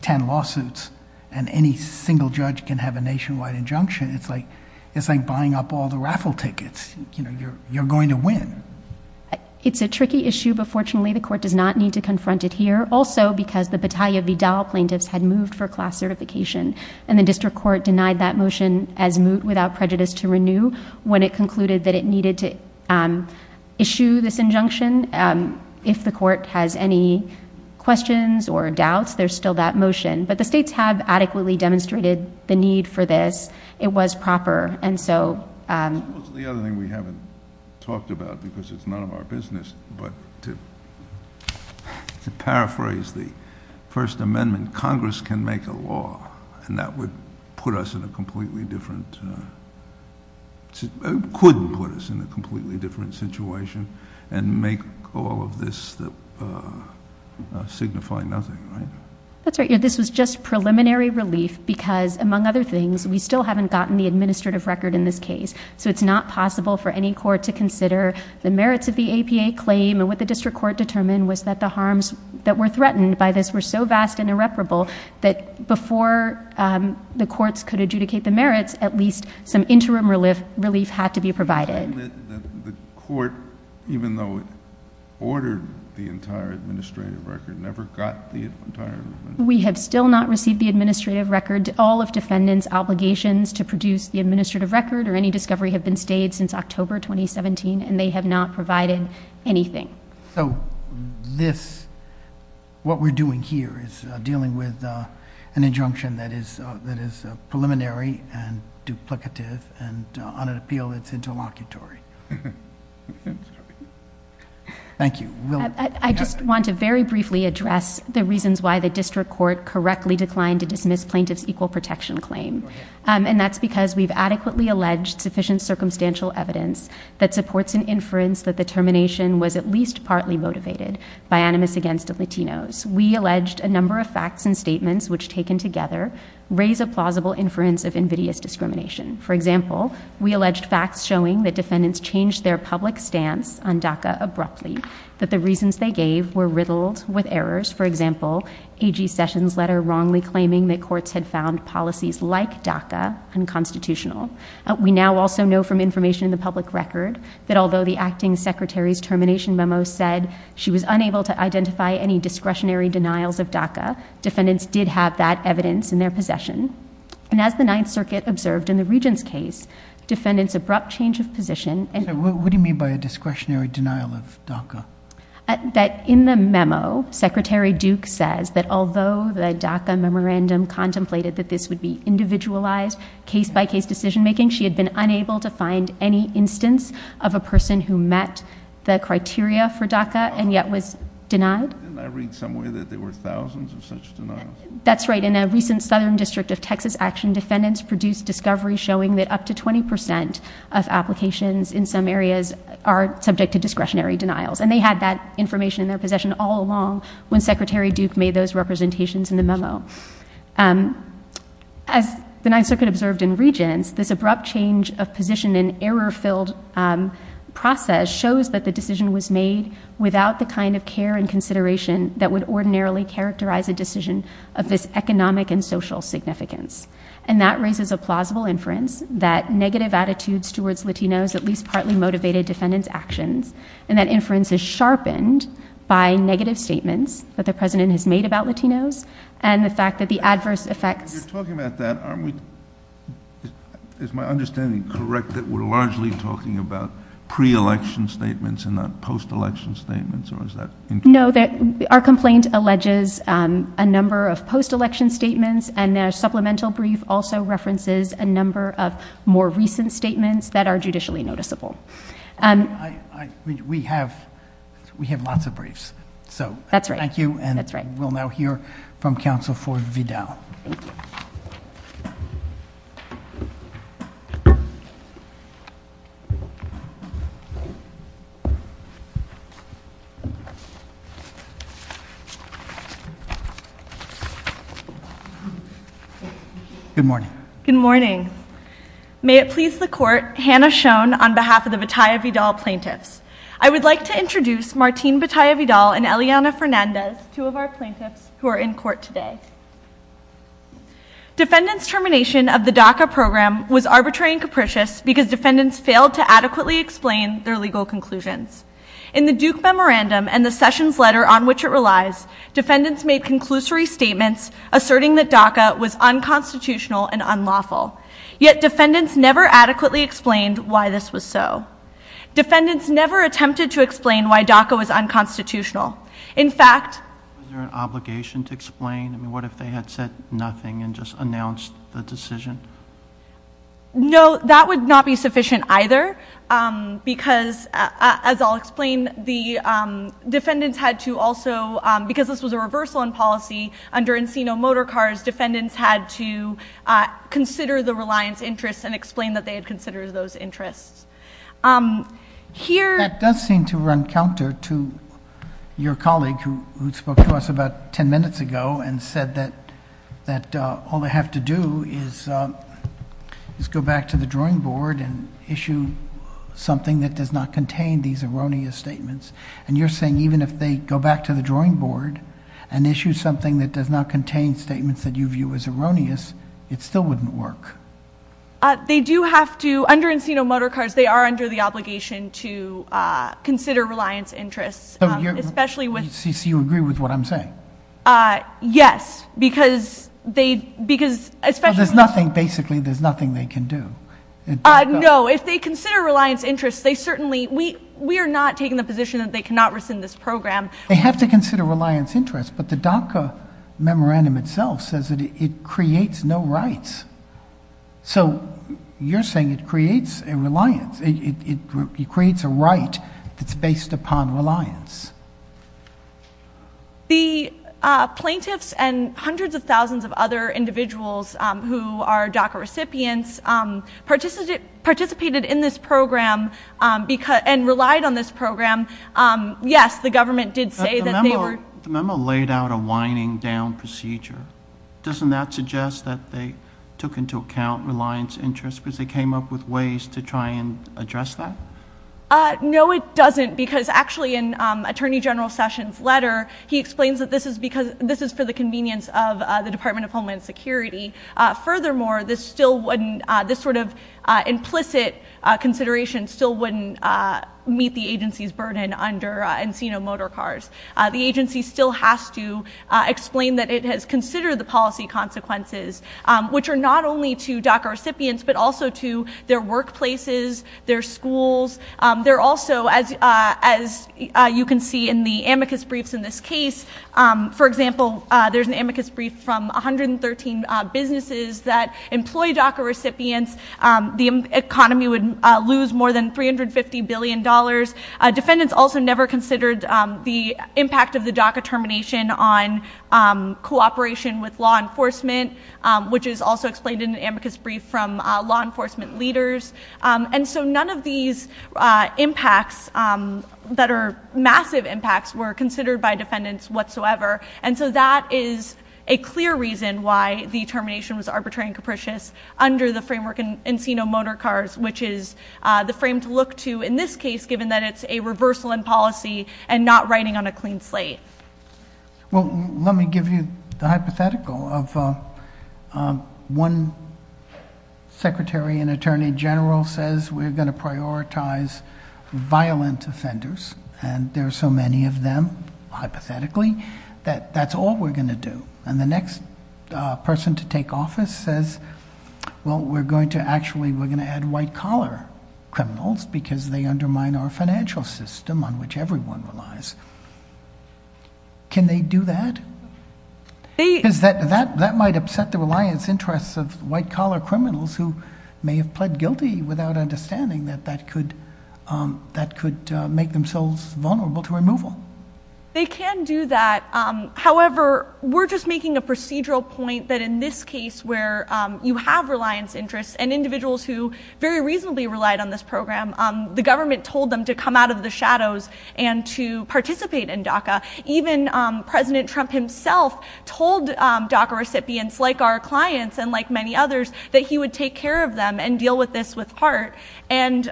10 lawsuits and any single judge can have a nationwide injunction, it's like buying up all the raffle tickets. You're going to win. It's a tricky issue, but fortunately the court does not need to confront it here, also because the Battaglia Vidal plaintiffs had moved for class certification, and the district court denied that motion as moot without prejudice to renew when it concluded that it needed to issue this injunction If the court has any questions or doubts, there's still that motion. But the states have adequately demonstrated the need for this. It was proper. And so... The other thing we haven't talked about because it's none of our business, but to paraphrase the First Amendment, Congress can make a law, and that would put us in a completely different situation and make all of this signify nothing. That's right. This is just preliminary relief because, among other things, we still haven't gotten the administrative record in this case. So it's not possible for any court to consider the merits of the APA claim, and what the district court determined was that the harms that were threatened by this were so vast and irreparable that before the courts could adjudicate the merits, at least some interim relief had to be provided. The court, even though it ordered the entire administrative record, never got the entire administrative record. We have still not received the administrative record. All of defendants' obligations to produce the administrative record or any discovery have been stayed since October 2017, and they have not provided anything. So this... What we're doing here is dealing with an injunction that is preliminary and duplicative and on a field that's interlocutory. Thank you. I just want to very briefly address the reasons why the district court correctly declined to dismiss plaintiff's equal protection claim, and that's because we've adequately alleged sufficient circumstantial evidence that supports an inference that the termination was at least partly motivated by animus against the Latinos. We alleged a number of facts and statements which, taken together, raise a plausible inference of invidious discrimination. For example, we alleged facts showing that defendants changed their public stance on DACA abruptly, that the reasons they gave were riddled with errors. For example, A.G. Sessions' letter wrongly claiming that courts had found policies like DACA unconstitutional. We now also know from information in the public record that although the acting secretary's termination memo said she was unable to identify any discretionary denials of DACA, defendants did have that evidence in their possession. And as the Ninth Circuit observed in the Regents' case, defendants' abrupt change of position and... What do you mean by a discretionary denial of DACA? That in the memo, Secretary Duke says that although the DACA memorandum contemplated that this would be individualized case-by-case decision-making, she had been unable to find any instance of a person who met the criteria for DACA and yet was denied. Didn't I read somewhere that there were thousands of such denials? That's right. In a recent Southern District of Texas action, defendants produced discoveries showing that up to 20 percent of applications in some areas are subject to discretionary denials. And they had that information in their possession all along when Secretary Duke made those representations in the memo. As the Ninth Circuit observed in Regents', this abrupt change of position and error-filled process shows that the decision was made without the kind of care and consideration that would ordinarily characterize a decision of this economic and social significance. And that raises a plausible inference that negative attitudes towards Latinos at least partly motivated defendants' actions, and that inference is sharpened by negative statements that the President has made about Latinos and the fact that the adverse effect... You're talking about that, aren't we? Is my understanding correct that we're largely talking about pre-election statements and not post-election statements, or is that incorrect? No, our complaint alleges a number of post-election statements, and the supplemental brief also references a number of more recent statements that are judicially noticeable. We have lots of briefs. That's right. Thank you, and we'll now hear from Counsel Ford Vidal. Good morning. Good morning. May it please the Court, Hannah Schoen on behalf of the Bataya Vidal plaintiffs. I would like to introduce Martine Bataya Vidal and Eliana Fernandez, two of our plaintiffs who are in court today. Defendants' termination of the DACA program was arbitrary and capricious because defendants failed to adequately explain their legal conclusions. In the Duke Memorandum and the Sessions Letter on which it relies, defendants made conclusory statements asserting that DACA was unconstitutional and unlawful, yet defendants never adequately explained why this was so. Defendants never attempted to explain why DACA was unconstitutional. In fact... Was there an obligation to explain? What if they had said nothing and just announced the decision? No, that would not be sufficient either because, as I'll explain, the defendants had to also, because this was a reversal in policy, under Encino Motor Cars, defendants had to consider the reliance interests and explain that they had considered those interests. That does seem to run counter to your colleague who spoke to us about 10 minutes ago and said that all they have to do is go back to the drawing board and issue something that does not contain these erroneous statements. And you're saying even if they go back to the drawing board and issue something that does not contain statements that you view as erroneous, it still wouldn't work. They do have to, under Encino Motor Cars, they are under the obligation to consider reliance interests, especially with... So you agree with what I'm saying? Yes, because they, because... There's nothing, basically, there's nothing they can do. No, if they consider reliance interests, they certainly, we are not taking the position that they cannot rescind this program. They have to consider reliance interests, but the DACA memorandum itself says that it creates no rights. So you're saying it creates a reliance, it creates a right that's based upon reliance. The plaintiffs and hundreds of thousands of other individuals who are DACA recipients participated in this program and relied on this program. Yes, the government did say that they were... The memo laid out a winding down procedure. Doesn't that suggest that they took into account reliance interests because they came up with ways to try and address that? No, it doesn't, because actually in Attorney General Sessions' letter, he explains that this is for the convenience of the Department of Homeland Security. Furthermore, this sort of implicit consideration still wouldn't meet the agency's burden under Encino Motor Cars. The agency still has to explain that it has considered the policy consequences, which are not only to DACA recipients, but also to their workplaces, their schools. They're also, as you can see in the amicus briefs in this case, for example, there's an amicus brief from 113 businesses that employ DACA recipients. The economy would lose more than $350 billion. Defendants also never considered the impact of the DACA termination on cooperation with law enforcement, which is also explained in the amicus brief from law enforcement leaders. And so none of these impacts that are massive impacts were considered by defendants whatsoever. And so that is a clear reason why the termination was arbitrary and capricious under the framework in Encino Motor Cars, which is the frame to look to in this case, given that it's a reversal in policy and not writing on a clean slate. Well, let me give you the hypothetical of one secretary and attorney general says, we're going to prioritize violent offenders, and there are so many of them, hypothetically, that that's all we're going to do. And the next person to take office says, well, we're going to actually we're going to add white-collar criminals because they undermine our financial system on which everyone relies. Can they do that? That might upset the reliance interests of white-collar criminals who may have pled guilty without understanding that that could make themselves vulnerable to removal. They can do that. However, we're just making a procedural point that in this case where you have reliance interests and individuals who very reasonably relied on this program, the government told them to come out of the shadows and to participate in DACA. Even President Trump himself told DACA recipients like our clients and like many others that he would take care of them and deal with this with heart. And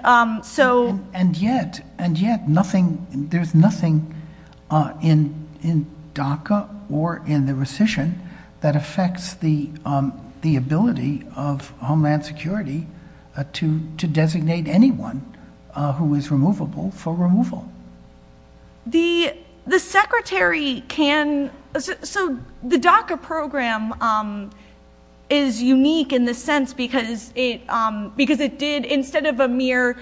yet, there's nothing in DACA or in the rescission that affects the ability of Homeland Security to designate anyone who is removable for removal. The DACA program is unique in the sense because it did instead of a mere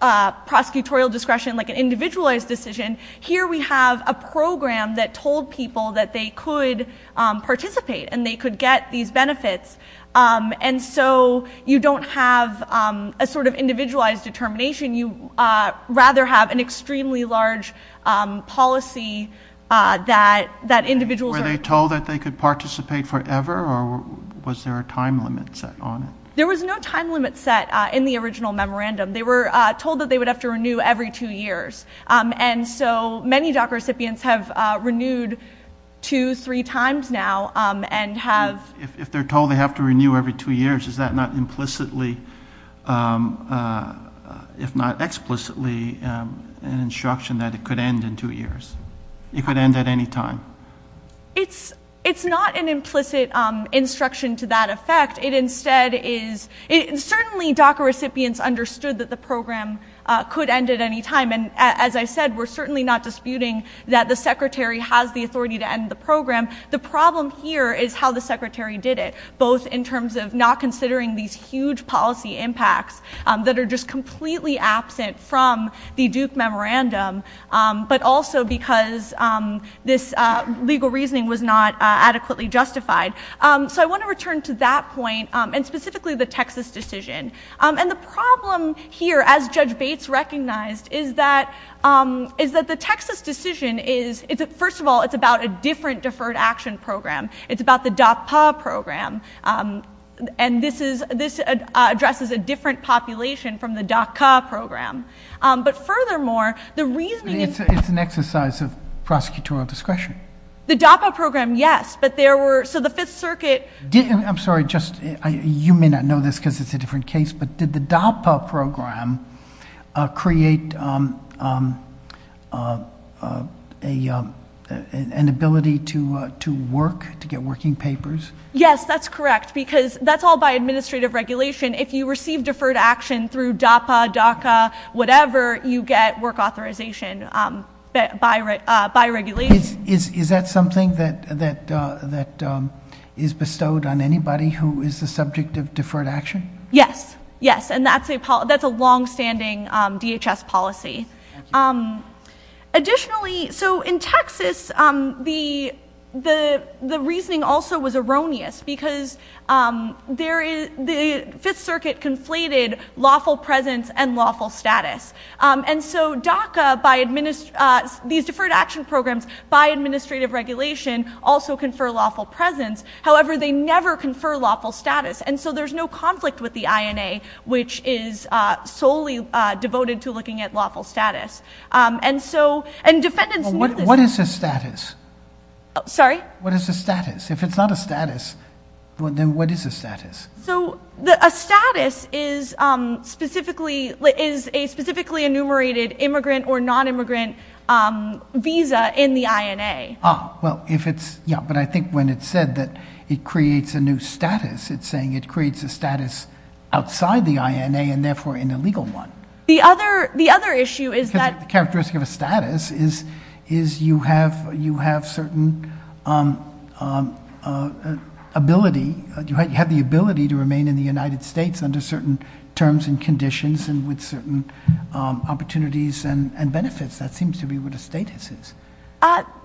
prosecutorial discretion like an individualized decision, here we have a program that told people that they could participate and they could get these benefits. And so, you don't have a sort of individualized determination. You rather have an extremely large policy that individuals... Was there a time limit set on it? There was no time limit set in the original memorandum. They were told that they would have to renew every two years. And so, many DACA recipients have renewed two, three times now and have... If they're told they have to renew every two years, is that not implicitly, if not explicitly, an instruction that it could end in two years? It could end at any time? It's not an implicit instruction to that effect. It instead is... Certainly, DACA recipients understood that the program could end at any time. And as I said, we're certainly not disputing that the Secretary has the authority to end the program. The problem here is how the Secretary did it, both in terms of not considering these huge policy impacts that are just completely absent from the Duke Memorandum, but also because this legal reasoning was not adequately justified. So, I want to return to that point, and specifically the Texas decision. And the problem here, as Judge Bates recognized, is that the Texas decision is... First of all, it's about a different Deferred Action Program. It's about the DACA program. And this addresses a different population from the DACA program. But furthermore, the reasoning... It's an exercise of prosecutorial discretion. The DACA program, yes, but there were... So, the Fifth Circuit... I'm sorry, you may not know this because it's a different case, but did the DACA program create an ability to work, to get working papers? Yes, that's correct, because that's all by administrative regulation. If you receive deferred action through DAPA, DACA, whatever, you get work authorization by regulation. Is that something that is bestowed on anybody who is the subject of deferred action? Yes, yes, and that's a longstanding DHS policy. Additionally, so in Texas, the reasoning also was erroneous because the Fifth Circuit conflated lawful presence and lawful status. And so DACA, these deferred action programs, by administrative regulation also confer lawful presence. However, they never confer lawful status. And so there's no conflict with the INA, which is solely devoted to looking at lawful status. And so... What is the status? Sorry? What is the status? If it's not a status, then what is a status? So a status is a specifically enumerated immigrant or nonimmigrant visa in the INA. Ah, well, if it's... Yeah, but I think when it's said that it creates a new status, it's saying it creates a status outside the INA and therefore an illegal one. The other issue is that... You have the ability to remain in the United States under certain terms and conditions and with certain opportunities and benefits. That seems to be what a status is.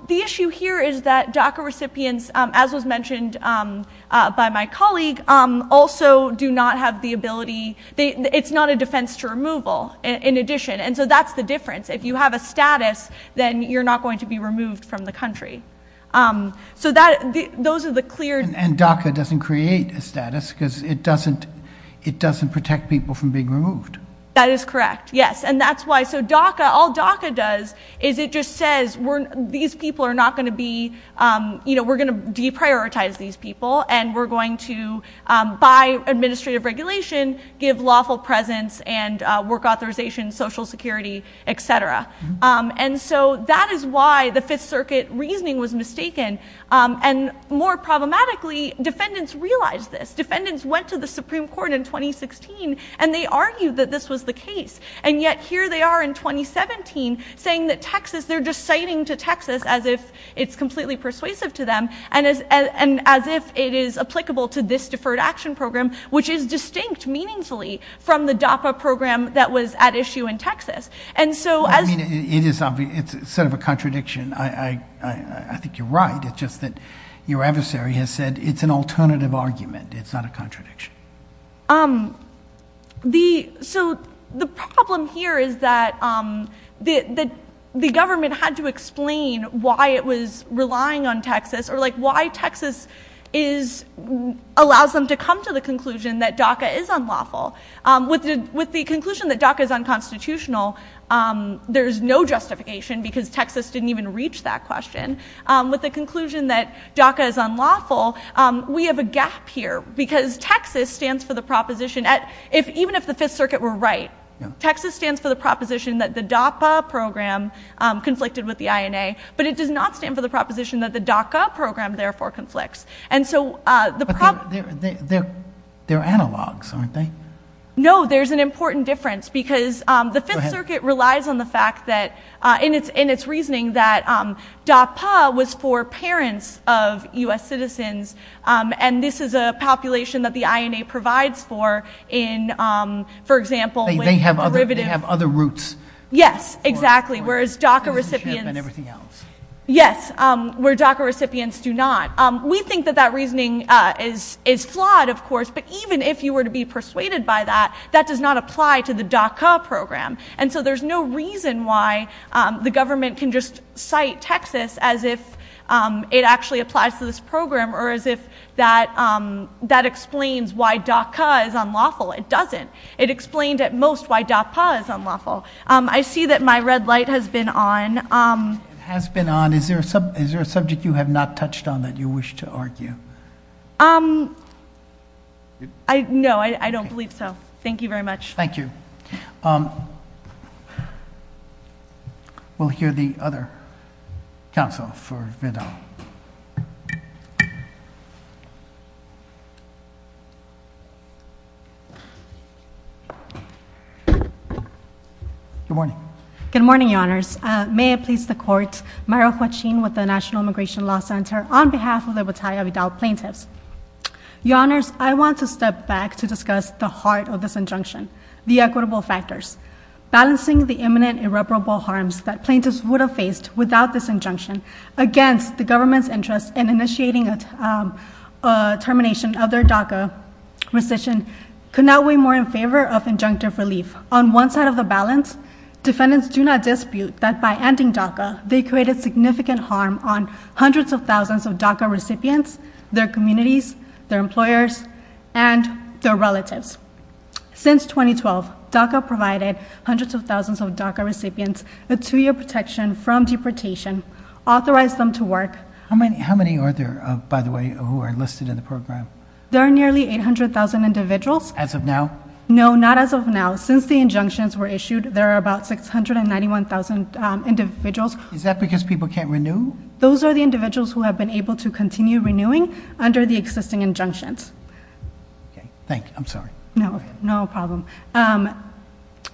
The issue here is that DACA recipients, as was mentioned by my colleague, also do not have the ability... It's not a defense to removal, in addition. And so that's the difference. If you have a status, then you're not going to be removed from the country. So those are the clear... And DACA doesn't create a status because it doesn't protect people from being removed. That is correct, yes. And that's why... So all DACA does is it just says, these people are not going to be... You know, we're going to deprioritize these people and we're going to, by administrative regulation, give lawful presence and work authorization, social security, et cetera. And so that is why the Fifth Circuit reasoning was mistaken. And more problematically, defendants realized this. Defendants went to the Supreme Court in 2016 and they argued that this was the case. And yet here they are in 2017 saying that Texas... They're just citing to Texas as if it's completely persuasive to them and as if it is applicable to this Deferred Action Program, which is distinct meaningfully from the DAPA program that was at issue in Texas. And so... It's sort of a contradiction. I think you're right. It's just that your adversary has said it's an alternative argument. It's not a contradiction. why it was relying on Texas or why Texas allows them to come to the conclusion that DACA is unlawful. With the conclusion that DACA is unconstitutional, there's no justification because Texas didn't even reach that question. With the conclusion that DACA is unlawful, we have a gap here because Texas stands for the proposition... Even if the Fifth Circuit were right, Texas stands for the proposition but it does not stand for the proposition that the DACA program therefore conflicts. They're analogs, aren't they? No, there's an important difference because the Fifth Circuit relies on the fact that in its reasoning that DAPA was for parents of U.S. citizens and this is a population that the INA provides for in, for example... They have other roots. Yes, exactly. Whereas DACA recipients... Your DACA recipients do not. We think that that reasoning is flawed, of course, but even if you were to be persuaded by that, that does not apply to the DACA program. And so there's no reason why the government can just cite Texas as if it actually applies to this program or as if that explains why DACA is unlawful. It doesn't. It explains at most why DACA is unlawful. I see that my red light has been on. Has been on. Is there a subject you have not touched on that you wish to argue? No, I don't believe so. Thank you very much. Thank you. We'll hear the other counsel for a bit. Good morning. Good morning, Your Honors. May it please the Court, Mariel Quachin with the National Immigration Law Center on behalf of the Battalion of Adult Plaintiffs. Your Honors, I want to step back to discuss the heart of this injunction, the equitable factors. Balancing the imminent irreparable harms that plaintiffs would have faced without this injunction against the government's interest in initiating a termination of their DACA rescission could not weigh more in favor of injunctive relief. On one side of the balance, defendants do not dispute that by ending DACA, they created significant harm on hundreds of thousands of DACA recipients, their communities, their employers, and their relatives. Since 2012, DACA provided hundreds of thousands of DACA recipients with two-year protection from deportation, authorized them to work. How many are there, by the way, who are enlisted in the program? There are nearly 800,000 individuals. As of now? No, not as of now. Since the injunctions were issued, there are about 691,000 individuals. Is that because people can't renew? Those are the individuals who have been able to continue renewing under the existing injunctions. Thank you. I'm sorry. No, no problem.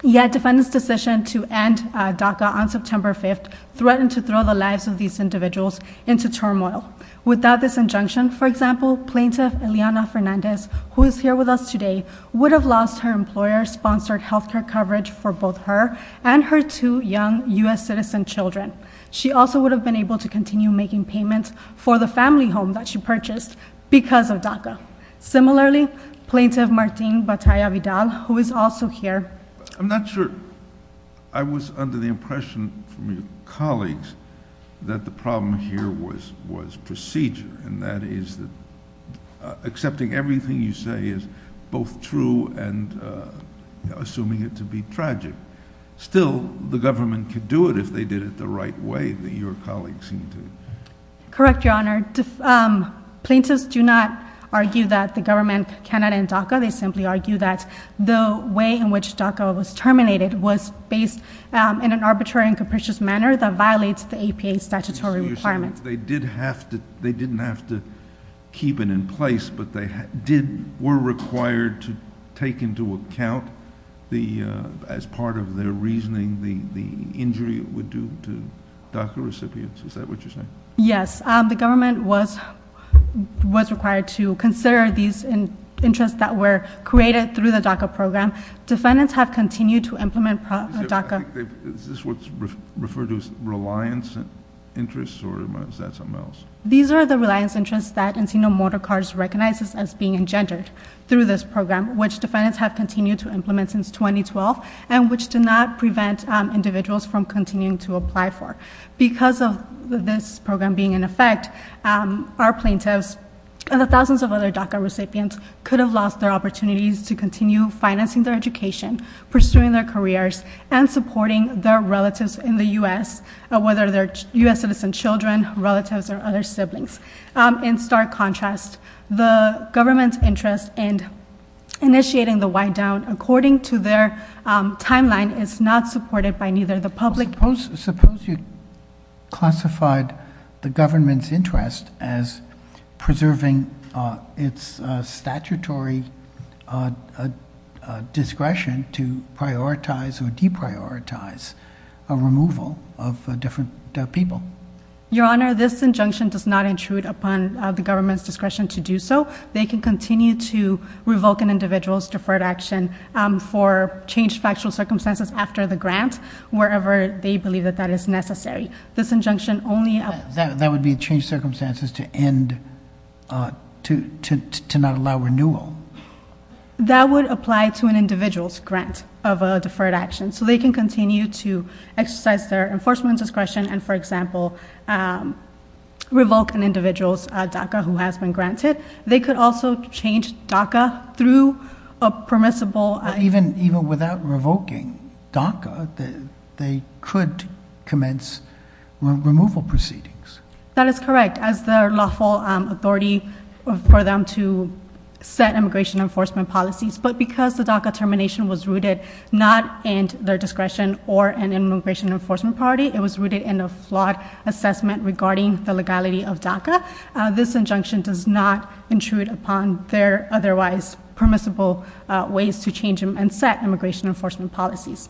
Yet defendants' decision to end DACA on September 5th threatened to throw the lives of these individuals into turmoil. Without this injunction, for example, Plaintiff Eliana Fernandez, who is here with us today, would have lost her employer-sponsored health care coverage for both her and her two young U.S. citizen children. She also would have been able to continue making payments for the family home that she purchased because of DACA. Similarly, Plaintiff Martine Batalla-Vidal, who is also here. I'm not sure I was under the impression from your colleagues that the problem here was procedure, and that is that accepting everything you say is both true and assuming it to be tragic. Still, the government could do it if they did it the right way, that your colleagues seem to think. Correct, Your Honor. Plaintiffs do not argue that the government cannot end DACA. They simply argue that the way in which DACA was terminated was based in an arbitrary and capricious manner that violates the APA statutory requirements. You're saying that they didn't have to keep it in place, but they were required to take into account as part of their reasoning the injury it would do to DACA recipients. Is that what you're saying? Yes. The government was required to consider these interests that were created through the DACA program. Defendants have continued to implement DACA. Is this what's referred to as reliance interests, or is that something else? These are the reliance interests that Antenna Motor Cars recognizes as being engendered through this program, which defendants have continued to implement since 2012 and which do not prevent individuals from continuing to apply for. Because of this program being in effect, our plaintiffs and the thousands of other DACA recipients could have lost their opportunities to continue financing their education, pursuing their careers, and supporting their relatives in the U.S., whether they're U.S. citizen children, relatives, or other siblings. In stark contrast, the government's interest in initiating the wind-down, according to their timeline, is not supported by neither the public nor... Suppose you classified the government's interest as preserving its statutory discretion to prioritize or deprioritize a removal of different people. Your Honor, this injunction does not intrude upon the government's discretion to do so. They can continue to revoke an individual's deferred action for changed factual circumstances after the grant, wherever they believe that that is necessary. This injunction only... That would mean changed circumstances to not allow renewal. That would apply to an individual's grant of a deferred action. So they can continue to exercise their enforcement discretion and, for example, revoke an individual's DACA who has been granted. They could also change DACA through a permissible... Even without revoking DACA, they could commence removal proceedings. That is correct. As their lawful authority for them to set immigration enforcement policies. But because the DACA termination was rooted not in their discretion or an immigration enforcement priority, it was rooted in a flawed assessment regarding the legality of DACA, this injunction does not intrude upon their otherwise permissible ways to change and set immigration enforcement policies.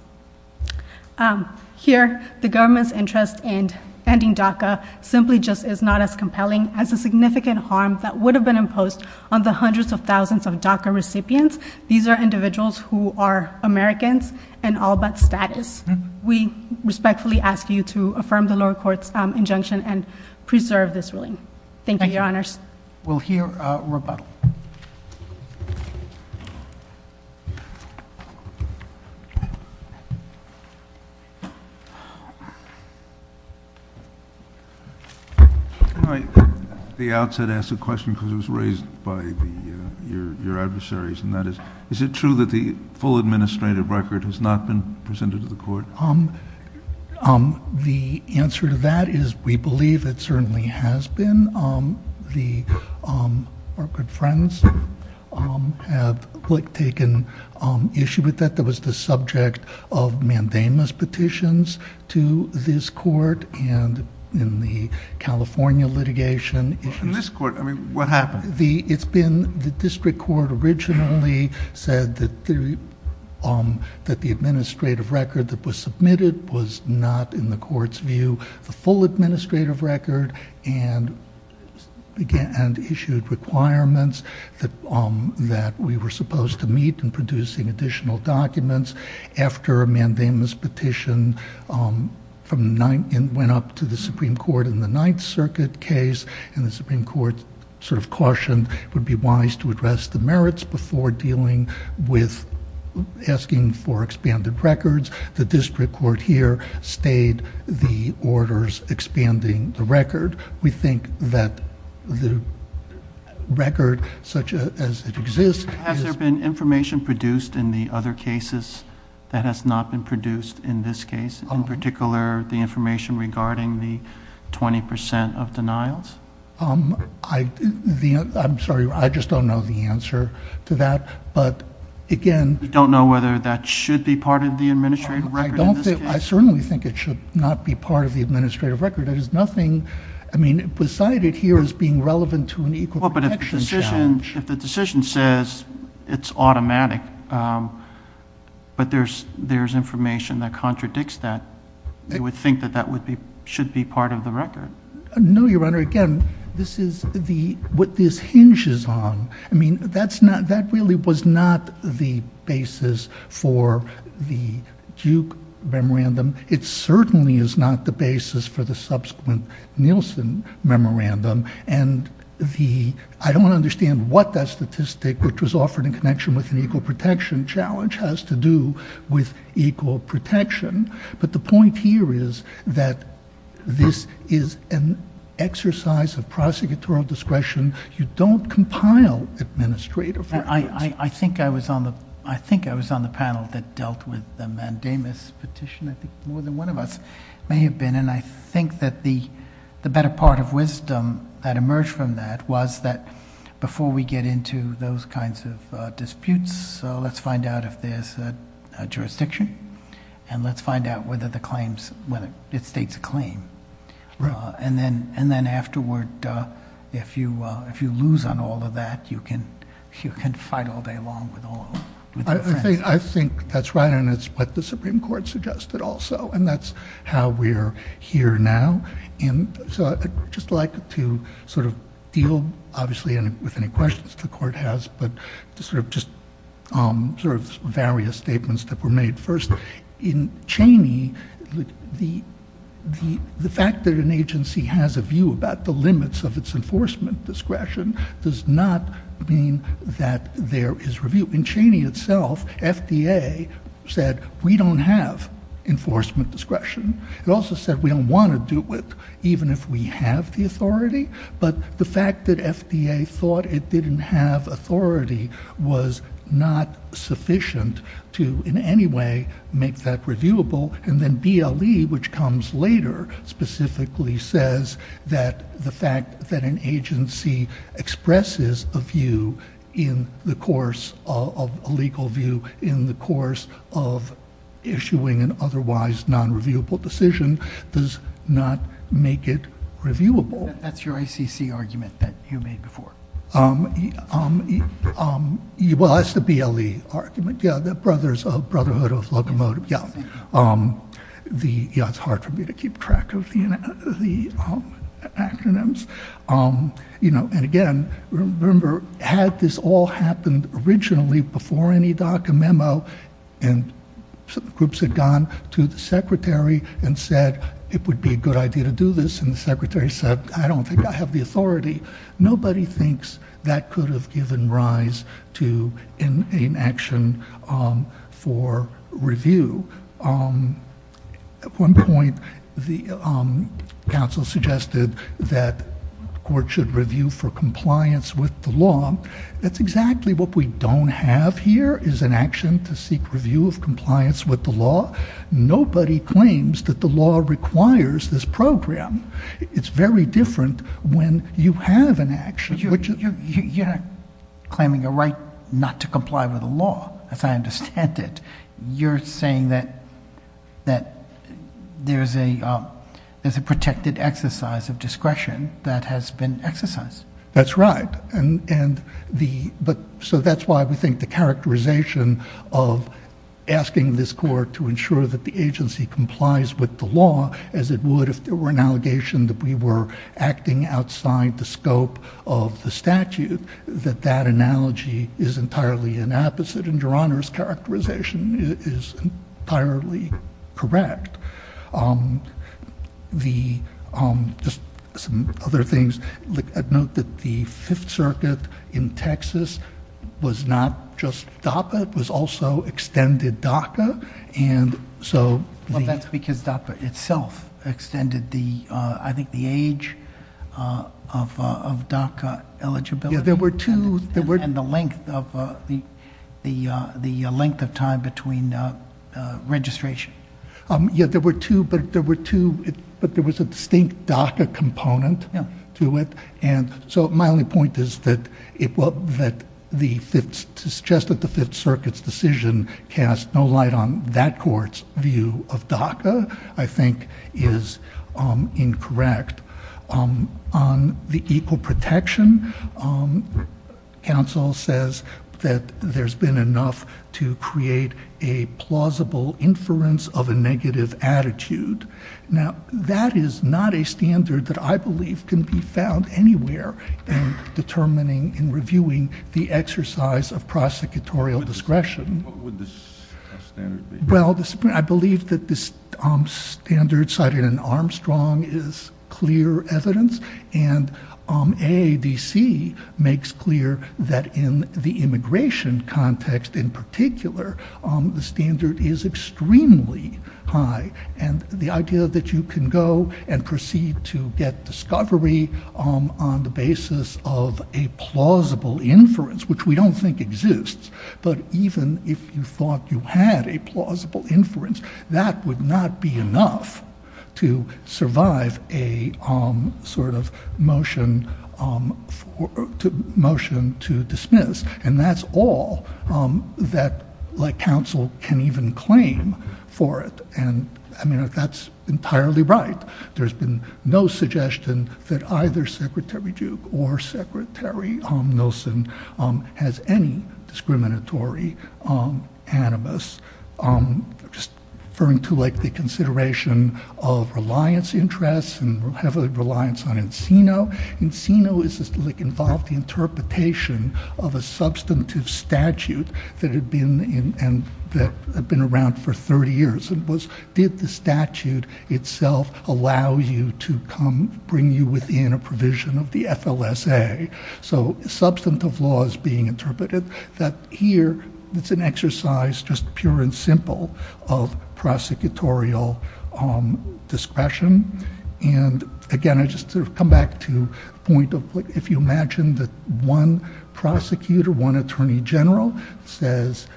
Here, the government's interest in ending DACA simply just is not as compelling as the significant harm that would have been imposed on the hundreds of thousands of DACA recipients. These are individuals who are Americans and all but status. We respectfully ask you to affirm the lower court's injunction and preserve this ruling. Thank you, Your Honors. We'll hear Rebecca. The outset asked a question because it was raised by your adversaries, and that is, is it true that the full administrative record has not been presented to the court? The answer to that is we believe it certainly has been. Our good friends have taken issue with that. That was the subject of mandamus petitions to this court and in the California litigation. In this court? I mean, what happened? The district court originally said that the administrative record that was submitted was not, in the court's view, the full administrative record and issued requirements that we were supposed to meet in producing additional documents. After a mandamus petition went up to the Supreme Court in the Ninth Circuit case, and the Supreme Court sort of cautioned it would be wise to address the merits before dealing with asking for expanded records, the district court here spayed the orders expanding the record. We think that the record, such as it exists... Has there been information produced in the other cases that has not been produced in this case? In particular, the information regarding the 20% of denials? I'm sorry, I just don't know the answer to that, but again... You don't know whether that should be part of the administrative record? I certainly think it should not be part of the administrative record. There is nothing, I mean, beside it here as being relevant to an equal protection statute. Well, but if the decision says it's automatic, but there's information that contradicts that, you would think that that should be part of the record. No, Your Honor, again, this is what this hinges on. I mean, that really was not the basis for the Duke memorandum. It certainly is not the basis for the subsequent Nielsen memorandum. I don't understand what that statistic, which was offered in connection with an equal protection challenge, has to do with equal protection, but the point here is that this is an exercise of prosecutorial discretion. You don't compile administrative records. I think I was on the panel that dealt with the mandamus petition. I think more than one of us may have been, and I think that the better part of wisdom that emerged from that was that before we get into those kinds of disputes, let's find out if there's a jurisdiction, and let's find out whether it states a claim, and then afterward, if you lose on all of that, you can fight all day long with all of them. I think that's right, and it's what the Supreme Court suggested also, and that's how we're here now, and so I'd just like to sort of deal, obviously, with any questions the court has, but just sort of various statements that were made. First, in Cheney, the fact that an agency has a view about the limits of its enforcement discretion does not mean that there is review. In Cheney itself, FDA said, we don't have enforcement discretion. It also said we don't want to do it, even if we have the authority, but the fact that FDA thought it didn't have authority was not sufficient to in any way make that reviewable, and then BLE, which comes later, specifically says that the fact that an agency expresses a view in the course of a legal view in the course of issuing an otherwise non-reviewable decision does not make it reviewable. That's your ICC argument that you made before. Well, that's the BLE argument, yeah, the Brothers of Brotherhood of Locomotive, yeah. It's hard for me to keep track of the acronyms, and again, remember, had this all happened originally before any document, and groups had gone to the secretary and said, it would be a good idea to do this, and the secretary said, I don't think I have the authority, nobody thinks that could have given rise to an action for review. At one point, the council suggested that the court should review for compliance with the law. That's exactly what we don't have here, is an action to seek review of compliance with the law. Nobody claims that the law requires this program. It's very different when you have an action. You're claiming a right not to comply with the law, if I understand it. You're saying that there's a protected exercise of discretion that has been exercised. That's right. So that's why I would think the characterization of asking this court to ensure that the agency complies with the law, as it would if there were an allegation that we were acting outside the scope of the statute, that that analogy is entirely an opposite, and your honor's characterization is entirely correct. Just some other things, I'd note that the Fifth Circuit in Texas was not just DACA, it was also extended DACA, and so... Well, that's because DACA itself extended, I think, the age of DACA eligibility. Yeah, there were two... And the length of time between registration. Yeah, there were two, but there was a distinct DACA component to it, and so my only point is that the Fifth Circuit's decision cast no light on that court's view of DACA, I think, is incorrect. On the equal protection, counsel says that there's been enough to create a plausible inference of a negative attitude. Now, that is not a standard that I believe can be found anywhere in determining and reviewing the exercise of prosecutorial discretion. What would the standard be? Well, I believe that the standard cited in Armstrong is clear evidence, and AADC makes clear that in the immigration context in particular, the standard is extremely high, and the idea that you can go and proceed to get discovery on the basis of a plausible inference, which we don't think exists, but even if you thought you had a plausible inference, that would not be enough to survive a sort of motion to dismiss, and that's all that counsel can even claim for it. And, I mean, that's entirely right. There's been no suggestion that either Secretary Duke or Secretary Nielsen has any discriminatory animus. Just referring to, like, the consideration of reliance interests and heavily reliance on Encino. Encino involves the interpretation of a substantive statute that had been around for 30 years, and did the statute itself allow you to come, bring you within a provision of the FLSA? So substantive law is being interpreted, but here it's an exercise, just pure and simple, of prosecutorial discretion, and, again, I just sort of come back to the point of, if you imagine that one prosecutor, one attorney general says,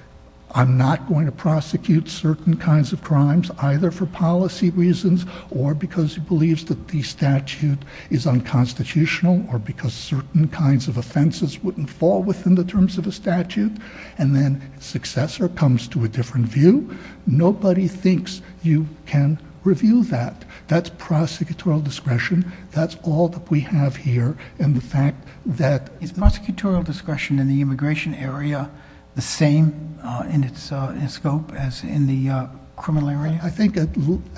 I'm not going to prosecute certain kinds of crimes, either for policy reasons or because he believes that the statute is unconstitutional or because certain kinds of offenses wouldn't fall within the terms of the statute, and then successor comes to a different view, nobody thinks you can review that. That's prosecutorial discretion. That's all that we have here, and the fact that it's prosecutorial discretion in the immigration area, the same in its scope as in the criminal area? I think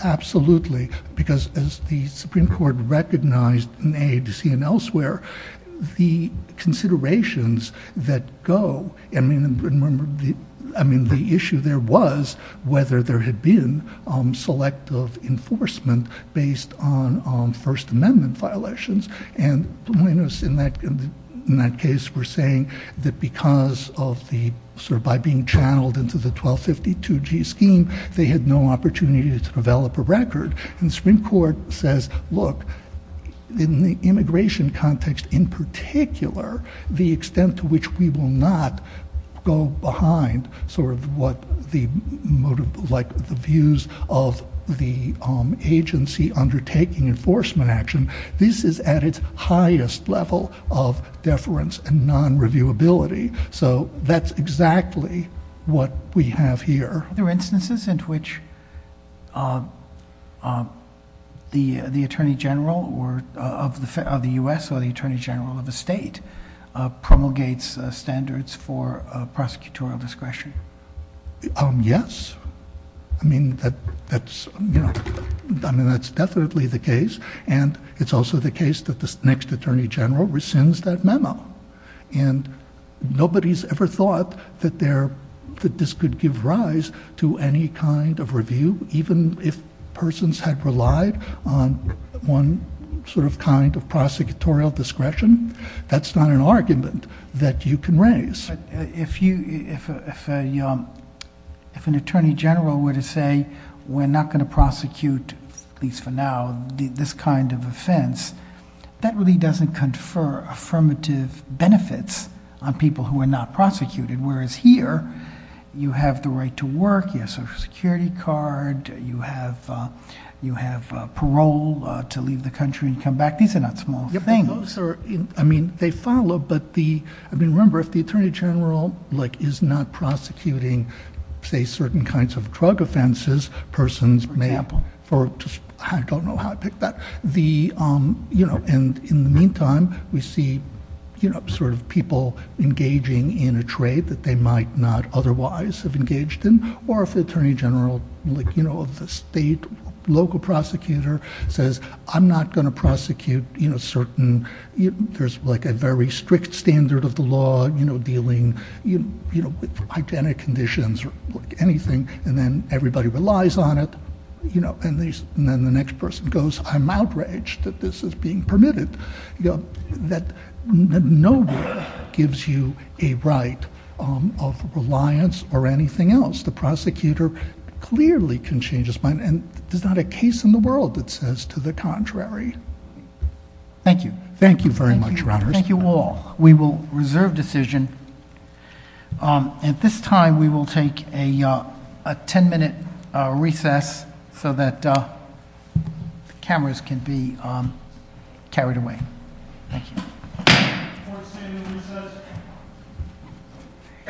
absolutely, because as the Supreme Court recognized in A, B, C, and elsewhere, the considerations that go, I mean, the issue there was whether there had been selective enforcement based on First Amendment violations, and plaintiffs in that case were saying that because of the, sort of, by being channeled into the 1252G scheme, they had no opportunity to develop a record, and the Supreme Court says, look, in the immigration context in particular, the extent to which we will not go behind, sort of, what the views of the agency undertaking enforcement action, this is at its highest level of deference and non-reviewability, so that's exactly what we have here. Are there instances in which the Attorney General of the U.S. or the Attorney General of a state promulgates standards for prosecutorial discretion? Yes. I mean, that's definitely the case, and it's also the case that the next Attorney General rescinds that memo, and nobody's ever thought that this could give rise to any kind of review, even if persons had relied on one sort of kind of prosecutorial discretion. That's not an argument that you can raise. If an Attorney General were to say, we're not going to prosecute, at least for now, this kind of offense, that really doesn't confer affirmative benefits on people who are not prosecuted, whereas here, you have the right to work, you have a Social Security card, you have parole to leave the country and come back. These are not small things. I mean, they follow, but remember, if the Attorney General is not prosecuting, say, certain kinds of drug offenses, persons may have... I don't know how to pick that. In the meantime, we see people engaging in a trade that they might not otherwise have engaged in, or if the Attorney General of the state, local prosecutor, says, I'm not going to prosecute certain... There's a very strict standard of the law dealing with identic conditions or anything, and then everybody relies on it, and then the next person goes, I'm outraged that this is being permitted. No one gives you a right of reliance or anything else. The prosecutor clearly can change his mind, and there's not a case in the world that says to the contrary. Thank you. Thank you very much, Your Honors. Thank you all. We will reserve decision. At this time, we will take a 10-minute recess so that cameras can be carried away. Thank you.